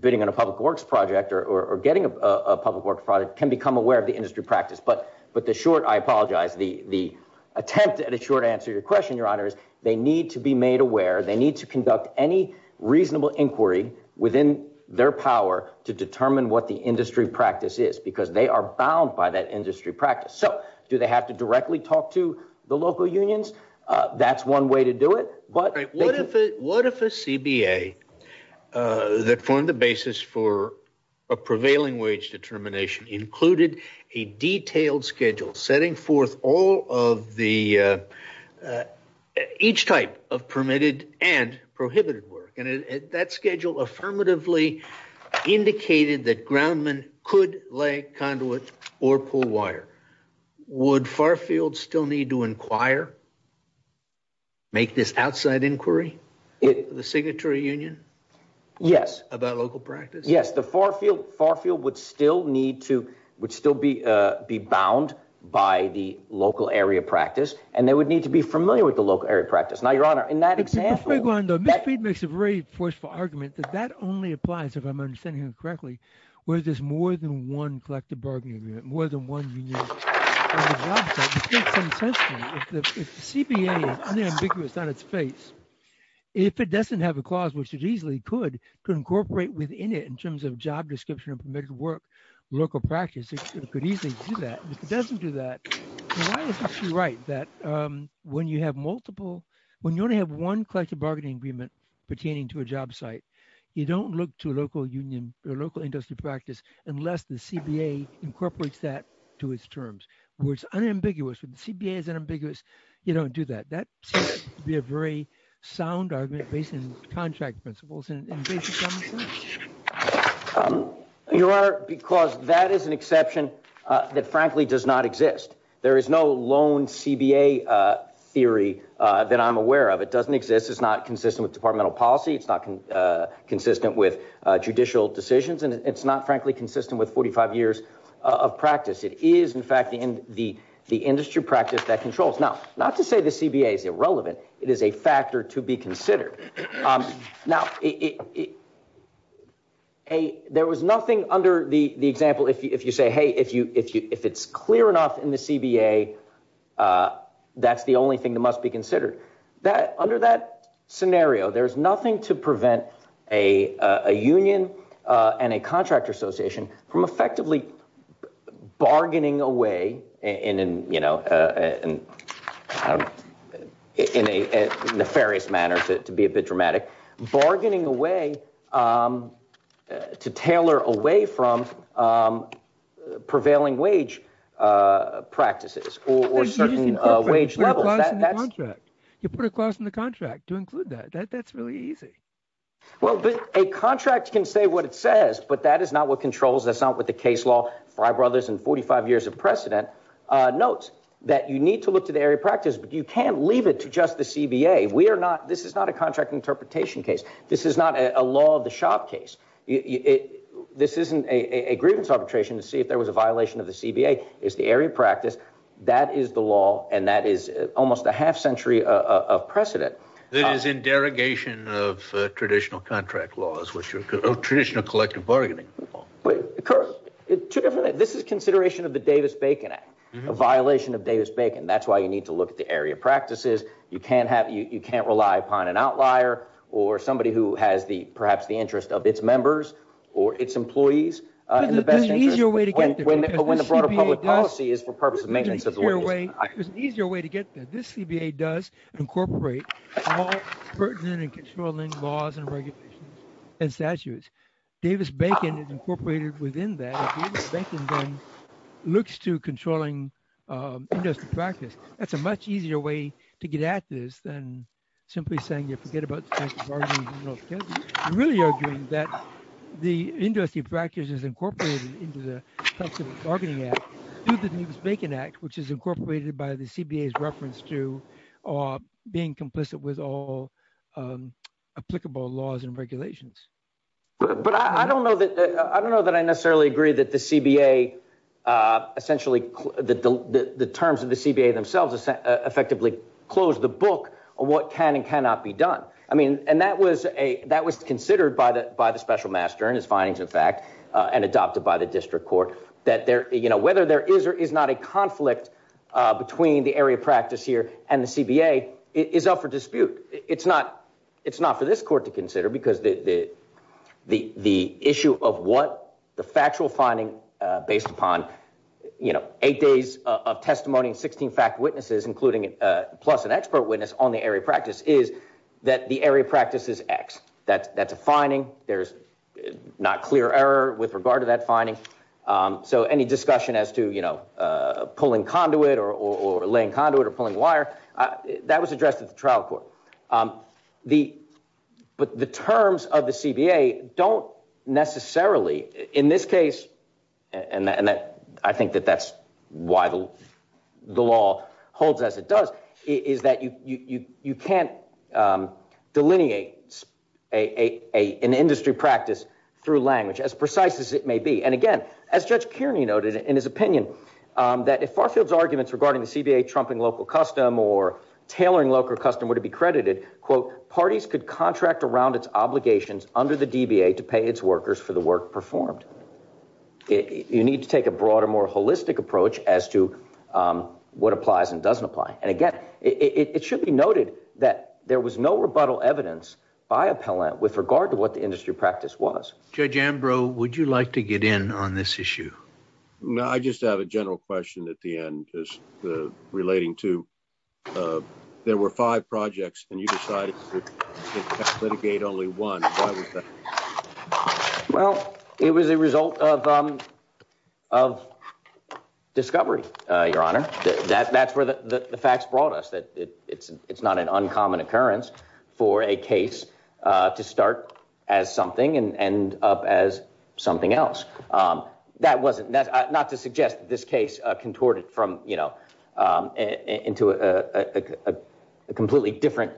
bidding on a public works project or getting a public works product can become aware of the industry practice. But the short, I apologize, the attempt at a short answer to your question, Your Honor, is they need to be made aware. They need to conduct any reasonable inquiry within their power to determine what the industry practice is, because they are bound by that industry practice. So do they have to directly talk to the local unions? That's one way to do it. What if a CBA that formed the basis for a prevailing wage determination included a detailed schedule setting forth all of the, each type of permitted and prohibited work? And that schedule affirmatively indicated that groundmen could lay conduits or pull wire. Would Farfield still need to inquire, make this outside inquiry, the signatory union? Yes. About local practice? Yes, the Farfield would still need to, would still be bound by the local area practice, and they would need to be familiar with the local area practice. Now, Your Honor, in that example. If I may go on, the Midfield makes a very forceful argument that that only applies, if I'm understanding correctly, where there's more than one collective bargaining agreement, more than one union. If the CBA is unambiguous on its face, if it doesn't have a clause which it easily could, could incorporate within it in terms of job description of permitted work, local practice, it could easily do that. If it doesn't do that, then why would she write that when you have multiple, when you only have one collective bargaining agreement pertaining to that to its terms, which is unambiguous. If the CBA is unambiguous, you don't do that. That would be a very sound argument based on contract principles. Your Honor, because that is an exception that frankly does not exist. There is no lone CBA theory that I'm aware of. It doesn't exist. It's not consistent with departmental policy. It's not consistent with judicial decisions. And it's not frankly consistent with 45 years of practice. It is in fact the industry practice that controls. Now, not to say the CBA is irrelevant. It is a factor to be considered. Now, there was nothing under the example, if you say, hey, if it's clear enough in the CBA, that's the only thing that must be considered. Under that scenario, there's nothing to prevent a union and a contract association from effectively bargaining away in a nefarious manner, to be a bit dramatic, bargaining away to tailor away from prevailing wage practices or certain wage levels. You put a cost in the contract to include that. That's really easy. Well, a contract can say what it says, but that is not what controls. That's not what the case law, my brothers in 45 years of precedent notes that you need to look to the area of practice, but you can't leave it to just the CBA. We are not, this is not a contract interpretation case. This is not a law of the shop case. This isn't a grievance arbitration to see if there was a violation of the CBA. It's the area of practice. That is the law. And that is almost a half precedent. This is in derogation of traditional contract laws, which are traditional collective bargaining. Of course, this is consideration of the Davis-Bacon Act, a violation of Davis-Bacon. That's why you need to look at the area of practices. You can't rely upon an outlier or somebody who has the, perhaps the interest of its members or its employees in the best incorporate all pertinent and controlling laws and regulations and statutes. Davis-Bacon is incorporated within that. Davis-Bacon then looks to controlling industry practice. That's a much easier way to get at this than simply saying, you forget about the practice of bargaining. I'm really arguing that the industry practice is incorporated into the collective bargaining act. The Davis-Bacon Act, which is incorporated by the CBA's reference to, or being complicit with all applicable laws and regulations. But I don't know that, I don't know that I necessarily agree that the CBA essentially, the terms of the CBA themselves effectively closed the book on what can and cannot be done. I mean, and that was a, that was considered by the, by the special master and his findings, in fact, and adopted by the district court that there, you know, whether there is, there is not a conflict between the area of practice here and the CBA is up for dispute. It's not, it's not for this court to consider because the, the, the, the issue of what the factual finding based upon, you know, eight days of testimony and 16 fact witnesses, including plus an expert witness on the area of practice is that the area of practice is X. That that's a finding there's not clear error with regard to that finding. So any discussion as to, you know, pulling conduit or laying conduit or pulling wire that was addressed at the trial court. The, but the terms of the CBA don't necessarily in this case. And that, and that, I think that that's why the law holds as it does is that you, you, you, you can't delineate a, a, a, an industry practice through language as precise as it may be. And again, as judge Kearney noted in his opinion, that if Farfield's arguments regarding the CBA trumping local custom or tailoring local customer to be credited, quote, parties could contract around its obligations under the DBA to pay its workers for the work performed. You need to take a broader, more holistic approach as to what applies and doesn't apply. And again, it should be noted that there was no rebuttal evidence by appellant with regard to what the industry practice was. Judge Ambrose, would you like to get in on this issue? No, I just have a general question at the end, just the relating to there were five projects and you decided to litigate only one. Why was that? Well, it was a result of, of discovery. Your honor, that that's where the facts brought us it's not an uncommon occurrence for a case to start as something and end up as something else. That wasn't that, not to suggest this case contorted from, you know, into a, a, a, a completely different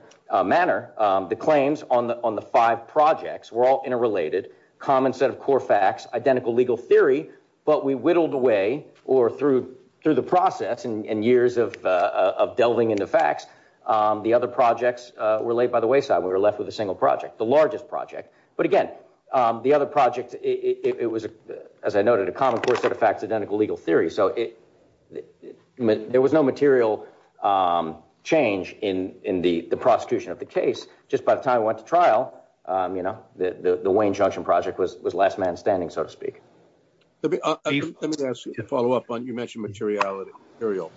manner. The claims on the, on the five projects were all interrelated, common set of core facts, identical legal theory, but we whittled away or through, through the process and years of, of delving into facts the other projects were laid by the wayside. We were left with a single project, the largest project. But again, the other project, it was, as I noted, a common core set of facts, identical legal theory. So it, there was no material change in, in the prosecution of the case. Just by the time we went to trial you know, the, the, the Wayne junction project was, was last man standing, so to speak. Let me, let me ask you to follow up on, you mentioned materiality, material.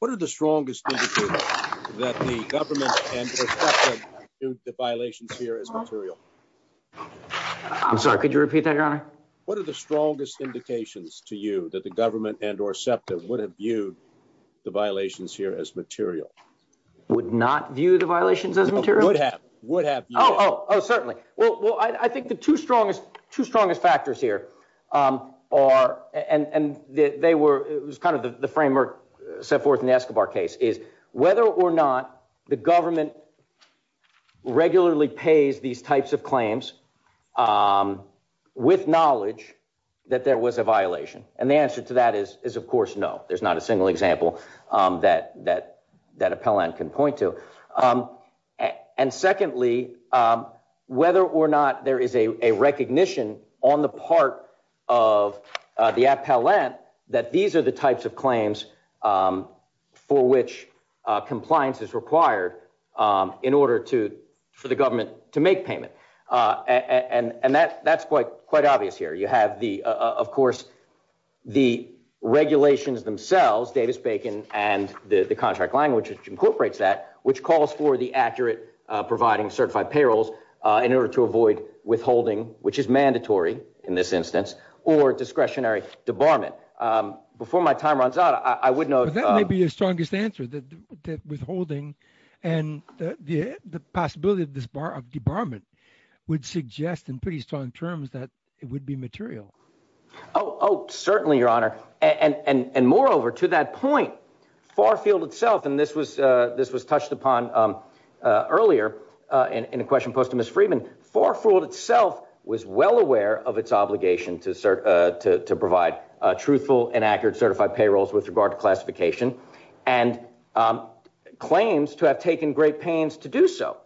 What are the strongest that the government and the violations here as material? I'm sorry, could you repeat that your honor? What are the strongest indications to you that the government and or SEPTA would have viewed the violations here as material? Would not view the violations as material? Would have, would have. Oh, oh, oh, certainly. Well, well, I think the two strongest factors here are, and they were, it was kind of the framework set forth in the Escobar case is whether or not the government regularly pays these types of claims with knowledge that there was a violation. And the answer to that is of course, no, there's not a can point to. And secondly, whether or not there is a recognition on the part of the app, that these are the types of claims for which compliance is required in order to, for the government to make payment. And that that's quite, quite obvious here. You have the, of course, the regulations themselves, Davis-Bacon and the contract language incorporates that, which calls for the accurate providing certified payrolls in order to avoid withholding, which is mandatory in this instance, or discretionary debarment. Before my time runs out, I wouldn't know. That may be the strongest answer that withholding and the possibility of debarment would suggest in pretty strong terms that it would be material. Oh, oh, certainly your honor. And, and, and moreover to that point, Farfield itself, and this was, this was touched upon earlier in a question posed to Ms. Freeman, Farfield itself was well aware of its obligation to serve, to provide a truthful and accurate certified payrolls with regard to classification and claims to have taken great pains to do so.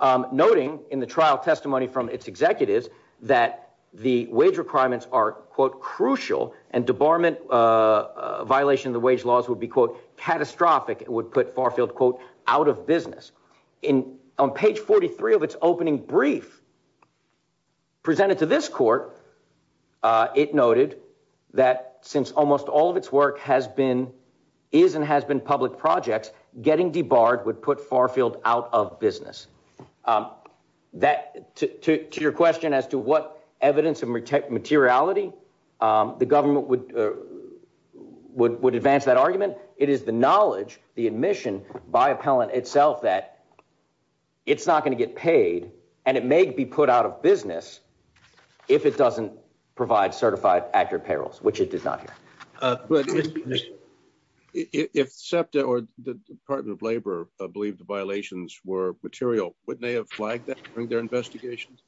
Noting in the trial testimony from its executives that the wage requirements are crucial and debarment violation of the wage laws would be catastrophic. It would put Farfield quote, out of business. In on page 43 of its opening brief presented to this court, it noted that since almost all of its work has been, is, and has been public projects, getting debarred would put Farfield out of business. That to, to, to your question as to what evidence of materiality the government would, would, would advance that argument. It is the knowledge, the admission by appellant itself, that it's not going to get paid and it may be put out of business if it doesn't provide certified accurate payrolls, which it does not. But if SEPTA or the department of labor believed the violations were material, would they have flagged that during their investigations?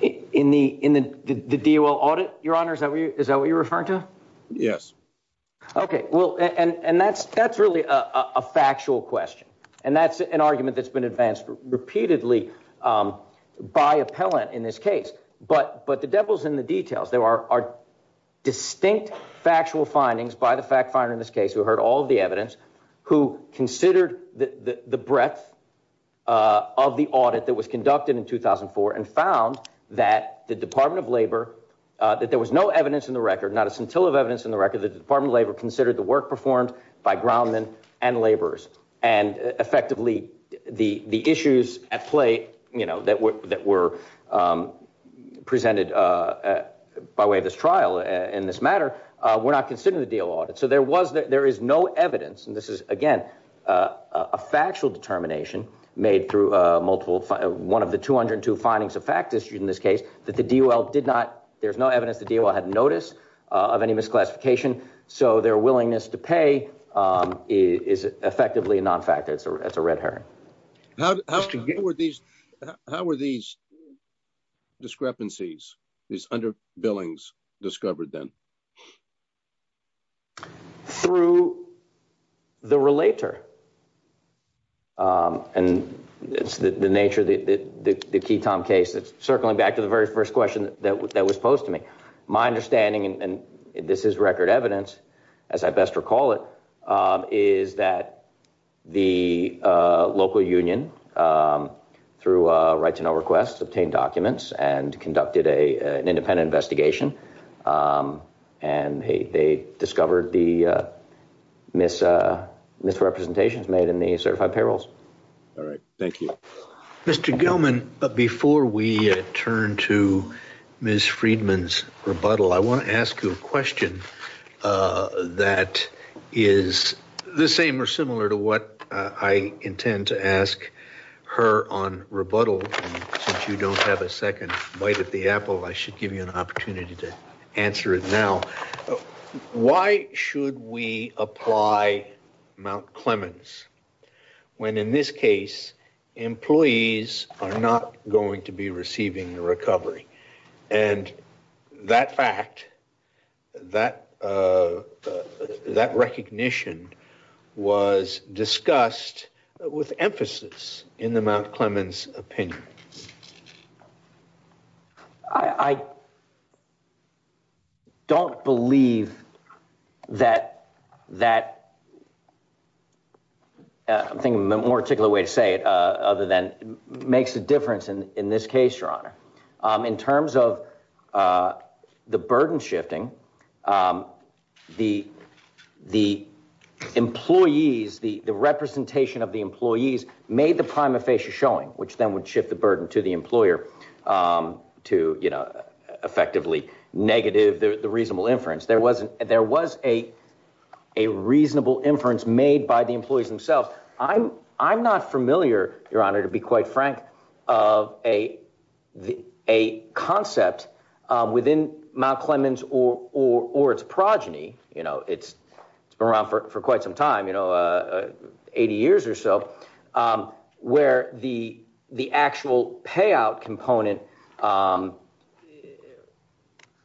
In the, in the DOL audit, your honor, is that what you're referring to? Yes. Okay. Well, and, and that's, that's really a factual question and that's an argument that's been advanced repeatedly by appellant in this case, but, but the devil's in the details. There are distinct factual findings by the fact finder in this case who heard all the evidence, who considered the breadth of the audit that was conducted in 2004 and found that the department of labor, that there was no evidence in the record, not a scintilla of evidence in the record, the department of labor considered the work performed by groundmen and laborers. And effectively the, the issues at play, you know, that were, that were presented by way of this trial in this matter, we're not considering the DOL audit. So there was that there is no evidence, and this is again, a factual determination made through a multiple, one of the 202 findings of fact issued in this case that the DOL did not, there's no evidence the DOL had noticed of any misclassification. So their willingness to pay is effectively a non-fact that's a red herring. How, how, how were these, how were these discrepancies, these under billings discovered then? Through the relator. And it's the nature of the, the, the key Tom case that's circling back to the very first question that was, that was posed to me, my understanding, and this is record evidence, as I best recall it is that the local union through a right to know requests obtained documents and conducted a, an independent investigation. And they discovered the mis misrepresentations made in the certified payrolls. All right. Thank you, Mr. Gilman. But before we turn to Ms. Friedman's rebuttal, I want to ask you a question that is the same or similar to what I intend to ask her on rebuttal. And since you don't have a second bite at the apple, I should give you an opportunity to answer it now. Why should we apply Mount Clemens when in this case, employees are not going to be receiving the recovery and that fact that, uh, that recognition was discussed with emphasis in the Mount Clemens opinion. I don't believe that, that I'm thinking of a more particular way to say it. Uh, other than makes a difference in this case, your honor, um, in terms of, uh, the burden shifting, um, the, the employees, the, the representation of the employees made the prima facie showing, which then would shift the burden to the employer, um, to, you know, effectively negative the reasonable inference. There wasn't, there was a, a reasonable inference made by the employees themselves. I'm, I'm not familiar, your honor, to be quite frank of a, the, a concept, uh, within Mount Clemens or, or, or its progeny, you know, it's around for quite some time, you know, uh, 80 years or so, um, where the, the actual payout component, um,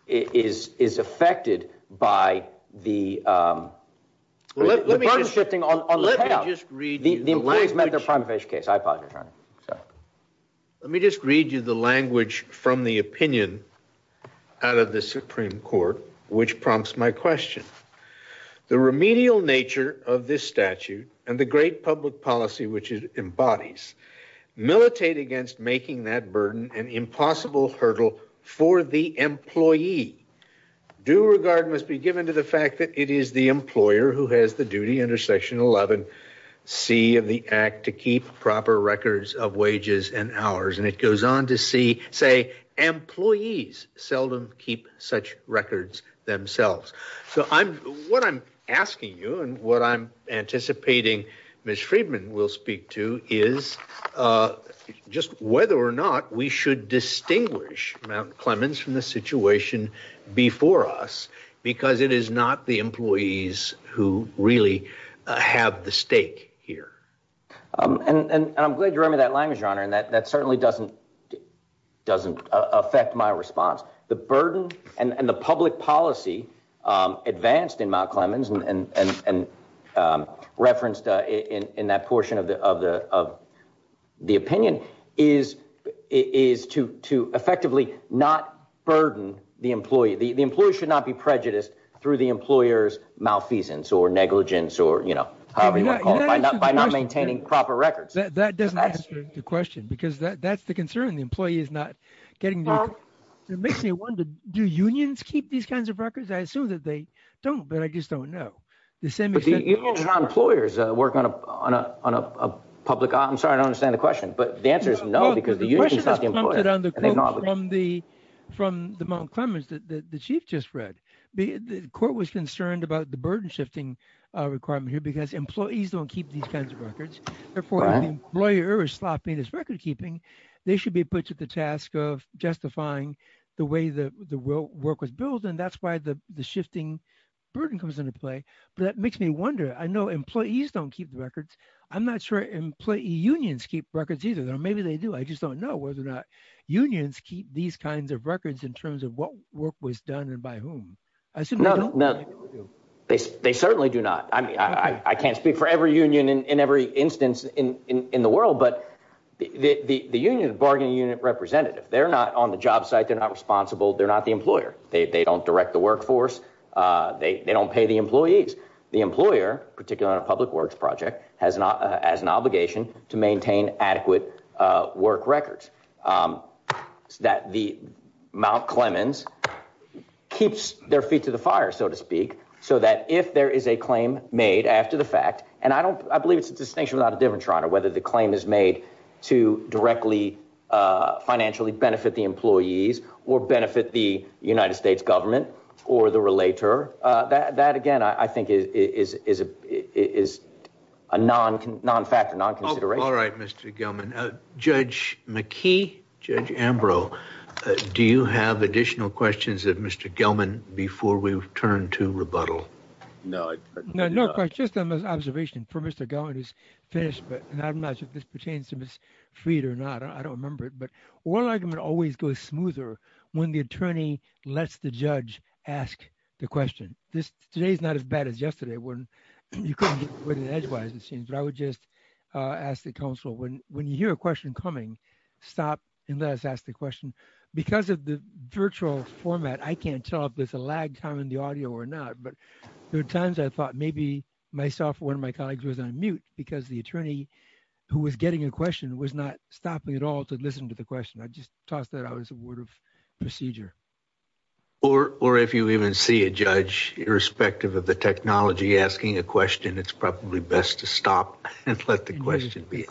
is, is affected by the, um, let me just read you the language from the opinion out of the Supreme court, which prompts my question, the remedial nature of this statute and the great public policy, which embodies militate against making that burden and impossible hurdle for the employee do regard must be given to the fact that it is the employer who has the duty under section 11 C and the act to keep proper records of wages and hours. And it goes on to see, say employees seldom keep such records themselves. So I'm, what I'm asking you and what I'm anticipating Ms. Friedman will speak to is, uh, just whether or not we should distinguish Mount Clemens from the situation before us, because it is not the employees who really have the stake here. And I'm glad you read me that language, your honor. And that, that certainly doesn't, doesn't affect my response, the burden and the public policy, um, advanced in Mount Clemens and, and, and, um, referenced, uh, in, in that portion of the, of the, of the opinion is, is to, to effectively not burden the employee. The, the employer should not be prejudiced through the employer's malfeasance or negligence, or, you know, by not maintaining proper records. That doesn't answer the question because that's the concern. The employee is not getting, it makes me wonder, do unions keep these kinds of records? I assume that they don't, but I just don't know. Employers work on a, on a, on a public, I'm sorry, I don't understand the question, but the answer is no, because the union is not the employer. From the Mount Clemens that the chief just read, the court was concerned about the burden shifting, uh, requirement here because employees don't keep these kinds of records. Therefore, when the employer is stopping this record keeping, they should be put to the task of justifying the way that the work was built. And that's why the shifting burden comes into play. That makes me wonder. I know employees don't keep records. I'm not sure employee unions keep records either, or maybe they do. I just don't know whether or not unions keep these kinds of records in terms of what work was done and by whom. I assume they don't. No, they certainly do not. I mean, I, I can't speak for every union in every instance in, in, in the world, but the, the, the, the union bargaining unit representative, they're not on the job site. They're not responsible. They're not the employer. They don't direct the workforce. Uh, they, they don't pay the employees. The employer, particularly on a public works project has not as an obligation to maintain adequate, uh, work records, um, that the Mount Clemens keeps their feet to the fire, so to speak. So that if there is a claim made after the fact, and I don't, I believe it's a distinction without a different trial or whether the claim is made to directly, uh, financially benefit the employees or benefit the United States government or the relator, uh, that, that again, I think is, is, is, is a non, non-factor, non-consideration. All right, Mr. Gelman, uh, Judge McKee, Judge Ambrose, do you have additional questions that Mr. Gelman before we've turned to rebuttal? No, no, no questions. Just an observation for Mr. Gelman is this, and I'm not sure if this pertains to Ms. Fried or not. I don't remember it, but one argument always goes smoother when the attorney lets the judge ask the question. This, today's not as bad as yesterday when you couldn't get rid of an edgewise exchange, but I would just, uh, ask the counsel when, when you hear a question coming, stop and let us ask the question. Because of the virtual format, I can't tell if there's a lag time in the audio or not, but there are times I thought maybe myself or one of my colleagues was on mute because the attorney who was getting a question was not stopping at all to listen to the question. I just tossed that out as a word of procedure. Or, or if you even see a judge, irrespective of the technology asking a question, it's probably best to stop and let the question be.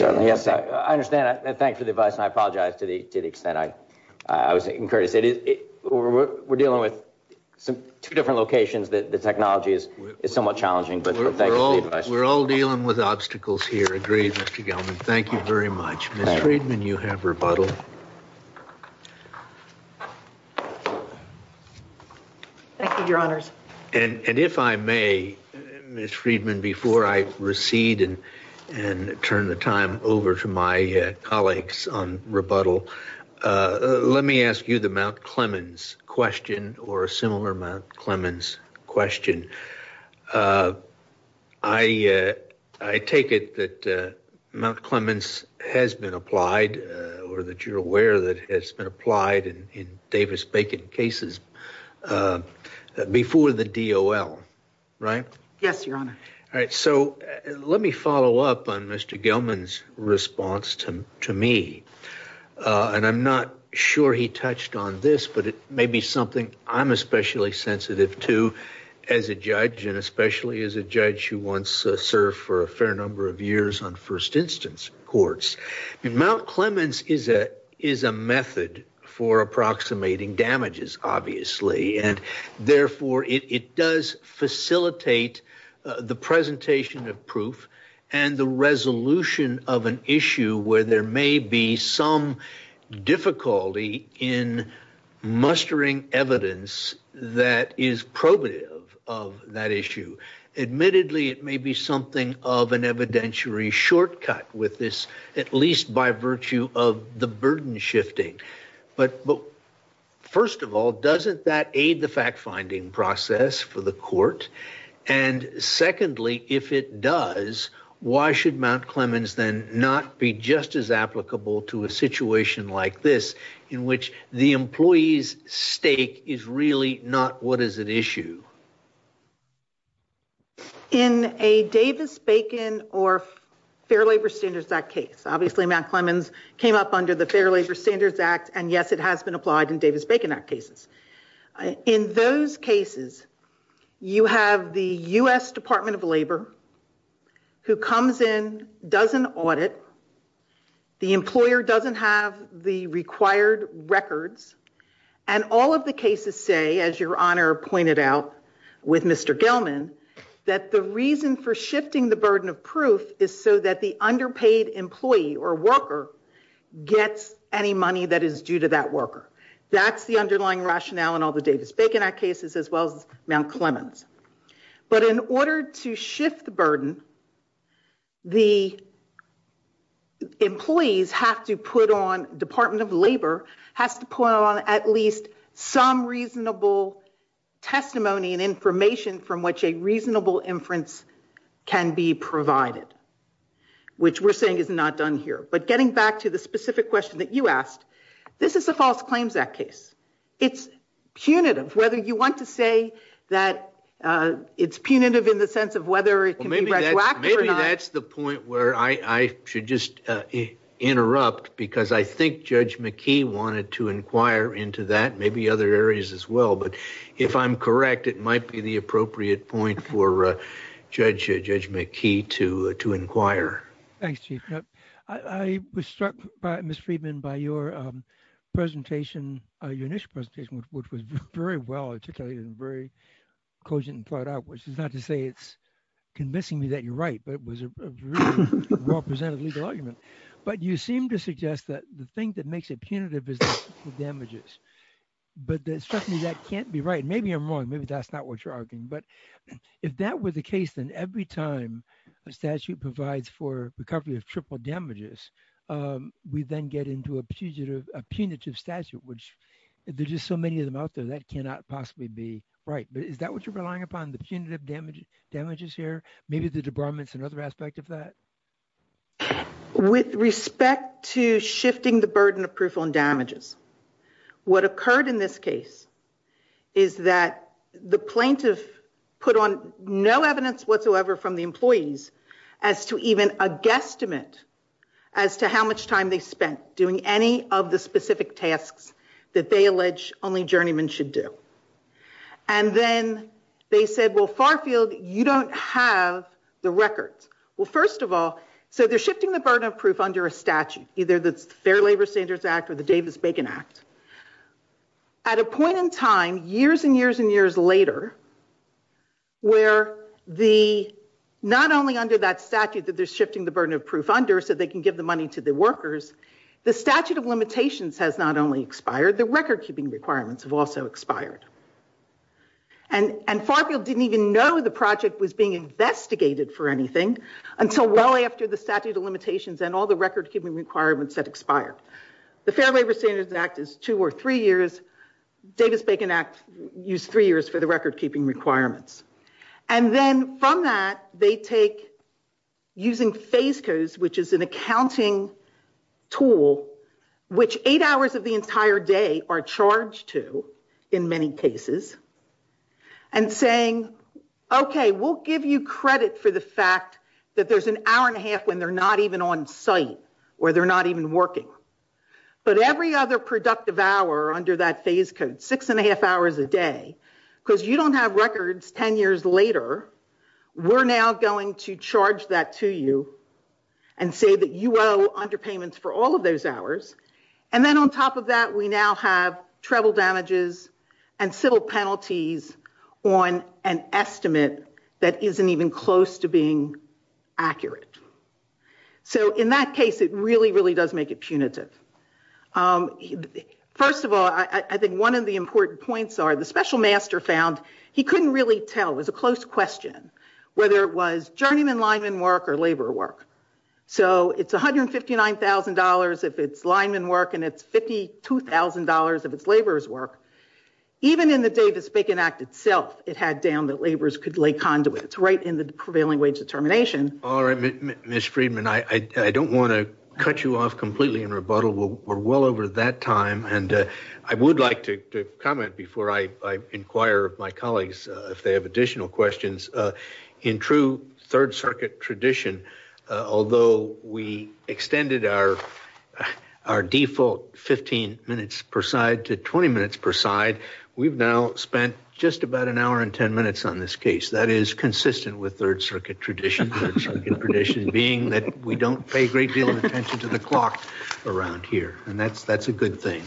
I understand that. Thanks for the advice. I apologize to the extent I was encouraged. We're dealing with two different locations that the technology is somewhat challenging, but we're all, we're all dealing with obstacles here. Thank you very much. You have rebuttal. And if I may, Ms. Friedman, before I recede and, and turn the time over to my colleagues on rebuttal, uh, let me ask you the Mount Clemens question or similar Mount Clemens question. Uh, I, uh, I take it that, uh, Mount Clemens has been applied, uh, or that you're aware that has been applied in Davis bacon cases, uh, before the DOL, right? Yes, your honor. All right. So let me follow up on Mr. Gelman's response to me. Uh, and I'm not sure he touched on this, but it may be something I'm especially sensitive to as a judge and especially as a judge who wants to serve for a fair number of years on first instance courts. Mount Clemens is a, is a method for approximating damages, obviously. And therefore it does facilitate the presentation of proof and the resolution of an issue where there may be some difficulty in evidence that is probative of that issue. Admittedly, it may be something of an evidentiary shortcut with this, at least by virtue of the burden shifting. But, but first of all, doesn't that aid the fact finding process for the court? And secondly, if it does, why should Mount Clemens then not be just as applicable to a situation like this in which the employee's stake is really not what is at issue? In a Davis bacon or Fair Labor Standards Act case, obviously Mount Clemens came up under the Fair Labor Standards Act. And yes, it has been applied in Davis Bacon Act cases. In those cases, you have the U.S. Department of Labor who comes in, doesn't audit. The employer doesn't have the required records. And all of the cases say, as your honor pointed out with Mr. Gelman, that the reason for shifting the burden of proof is so that the underpaid employee or worker gets any money that is due to that worker. That's the underlying rationale in all the Davis Bacon Act cases, as well as Mount Clemens. But in order to shift the burden, the employees have to put on, Department of Labor has to put on at least some reasonable testimony and information from which a reasonable inference can be provided, which we're saying is not done here. But getting back to the specific question that you asked, this is a false claims act case. It's punitive, whether you want to say that it's punitive in the sense of whether it can be redacted or not. Maybe that's the point where I should just interrupt because I think Judge McKee wanted to inquire into that, maybe other areas as well. But if I'm correct, it might be the appropriate point for Judge McKee to inquire. Thanks, Chief. I was struck by, Ms. Friedman, by your presentation, your initial presentation, which was very well articulated and very cogent and thought out, which is not to say it's convincing me that you're right, but it was a really well presented legal argument. But you seem to suggest that the thing that makes it punitive is the damages. But that can't be right. Maybe I'm wrong. Maybe that's not what you're arguing. But if that were the case, then every time a statute provides for recovery of triple damages, we then get into a punitive statute, which there's just so many of them out there that cannot possibly be right. Is that what you're relying upon, the punitive damages here? Maybe the debarment's another aspect of that? With respect to shifting the burden of proof on plaintiffs, what occurred in this case is that the plaintiff put on no evidence whatsoever from the employees as to even a guesstimate as to how much time they spent doing any of the specific tasks that they allege only journeymen should do. And then they said, well, Farfield, you don't have the records. Well, first of all, so they're shifting the burden of proof under a statute, either the Fair Labor Standards Act or the Davis-Bacon Act. At a point in time, years and years and years later, where not only under that statute that they're shifting the burden of proof under so they can give the money to the workers, the statute of limitations has not only expired, the recordkeeping requirements have also expired. And Farfield didn't even know the project was being investigated for anything until well after the statute of limitations and the recordkeeping requirements had expired. The Fair Labor Standards Act is two or three years. Davis-Bacon Act used three years for the recordkeeping requirements. And then from that, they take using FACES, which is an accounting tool, which eight hours of the entire day are charged to in many cases, and saying, okay, we'll give you credit for the fact that there's an hour and a half when they're not even on site or they're not even working. But every other productive hour under that FACES code, six and a half hours a day, because you don't have records ten years later, we're now going to charge that to you and say that you owe underpayments for all of those hours. And then on top of that, we now have treble damages and civil penalties on an estimate that So in that case, it really, really does make it punitive. First of all, I think one of the important points are the special master found he couldn't really tell, it was a close question, whether it was journeyman lineman work or labor work. So it's $159,000 if it's lineman work and it's $52,000 if it's laborers work. Even in the Davis-Bacon Act itself, it had down that laborers could lay conduits right in the prevailing wage determination. All right, Ms. Friedman, I don't want to cut you off completely in rebuttal. We're well over that time. And I would like to comment before I inquire my colleagues, if they have additional questions. In true third circuit tradition, although we extended our default 15 minutes per side to 20 minutes per side, we've now spent just about an hour and 10 minutes on this case. That is consistent with third circuit tradition, tradition being that we don't pay great deal of attention to the clock around here. And that's, that's a good thing.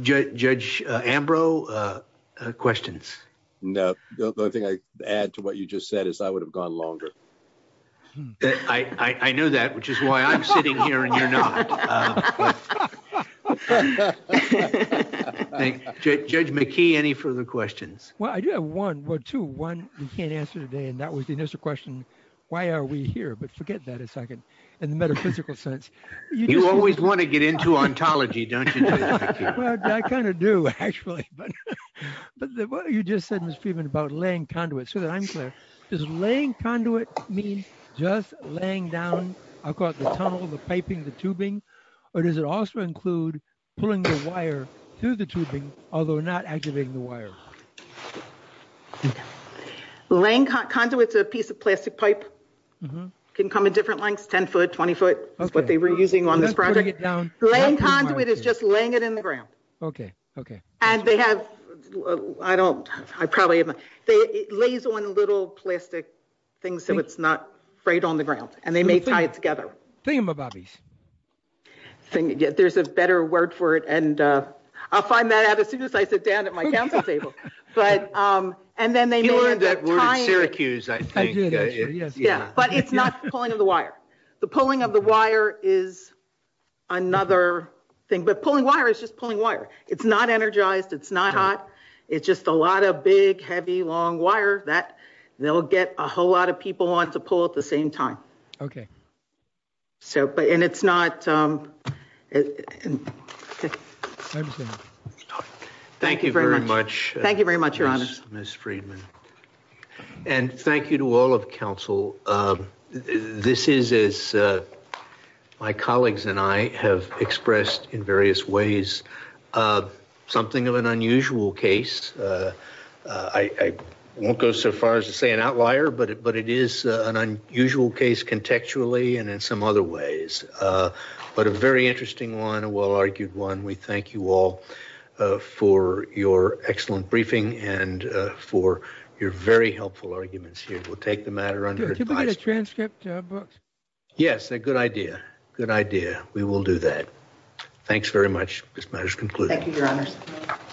Judge Ambrose, questions? No, the only thing I add to what you just said is I would have gone longer. I knew that, which is why I'm sitting here now. Judge McKee, any further questions? Well, I do have one or two, one we can't answer today. And that was the initial question. Why are we here? But forget that a second, in the metaphysical sense. You always want to get into ontology, don't you? I kind of do, actually. But what you just said, Ms. Friedman, about laying conduits, so that I'm clear, is laying conduit mean just laying down, I'll call it the tunnel, the piping, the tubing? Or does it also include pulling the wire through the tubing, although not activating the wire? Laying conduits, a piece of plastic pipe, can come in different lengths, 10 foot, 20 foot, that's what they were using on this project. Laying conduit is just laying it in the ground. Okay, okay. And they have, I don't, I probably haven't, it lays on little plastic things, and it's not right on the ground. And they may tie together. There's a better word for it, and I'll find that out as soon as I sit down at my counseling table. But, and then they may have tied it, but it's not pulling of the wire. The pulling of the wire is another thing, but pulling wire is just pulling wire. It's not energized, it's not hot, it's just a lot of big, heavy, long wire that they'll get a whole lot of people want to pull at the same time. Okay. So, but, and it's not. Thank you very much. Thank you very much, Your Honor. Ms. Friedman. And thank you to all of counsel. This is, as my colleagues and I have expressed in various ways, something of an unusual case. I won't go so far as to say an outlier, but it, but it is an unusual case contextually, and in some other ways. But a very interesting one, a well-argued one. We thank you all for your excellent briefing and for your very helpful arguments here. We'll take the matter under advice. Can we get a transcript, Brooks? Yes, a good idea. Good idea. We will do that. Thanks very much. This matter is concluded. Thank you, Your Honor.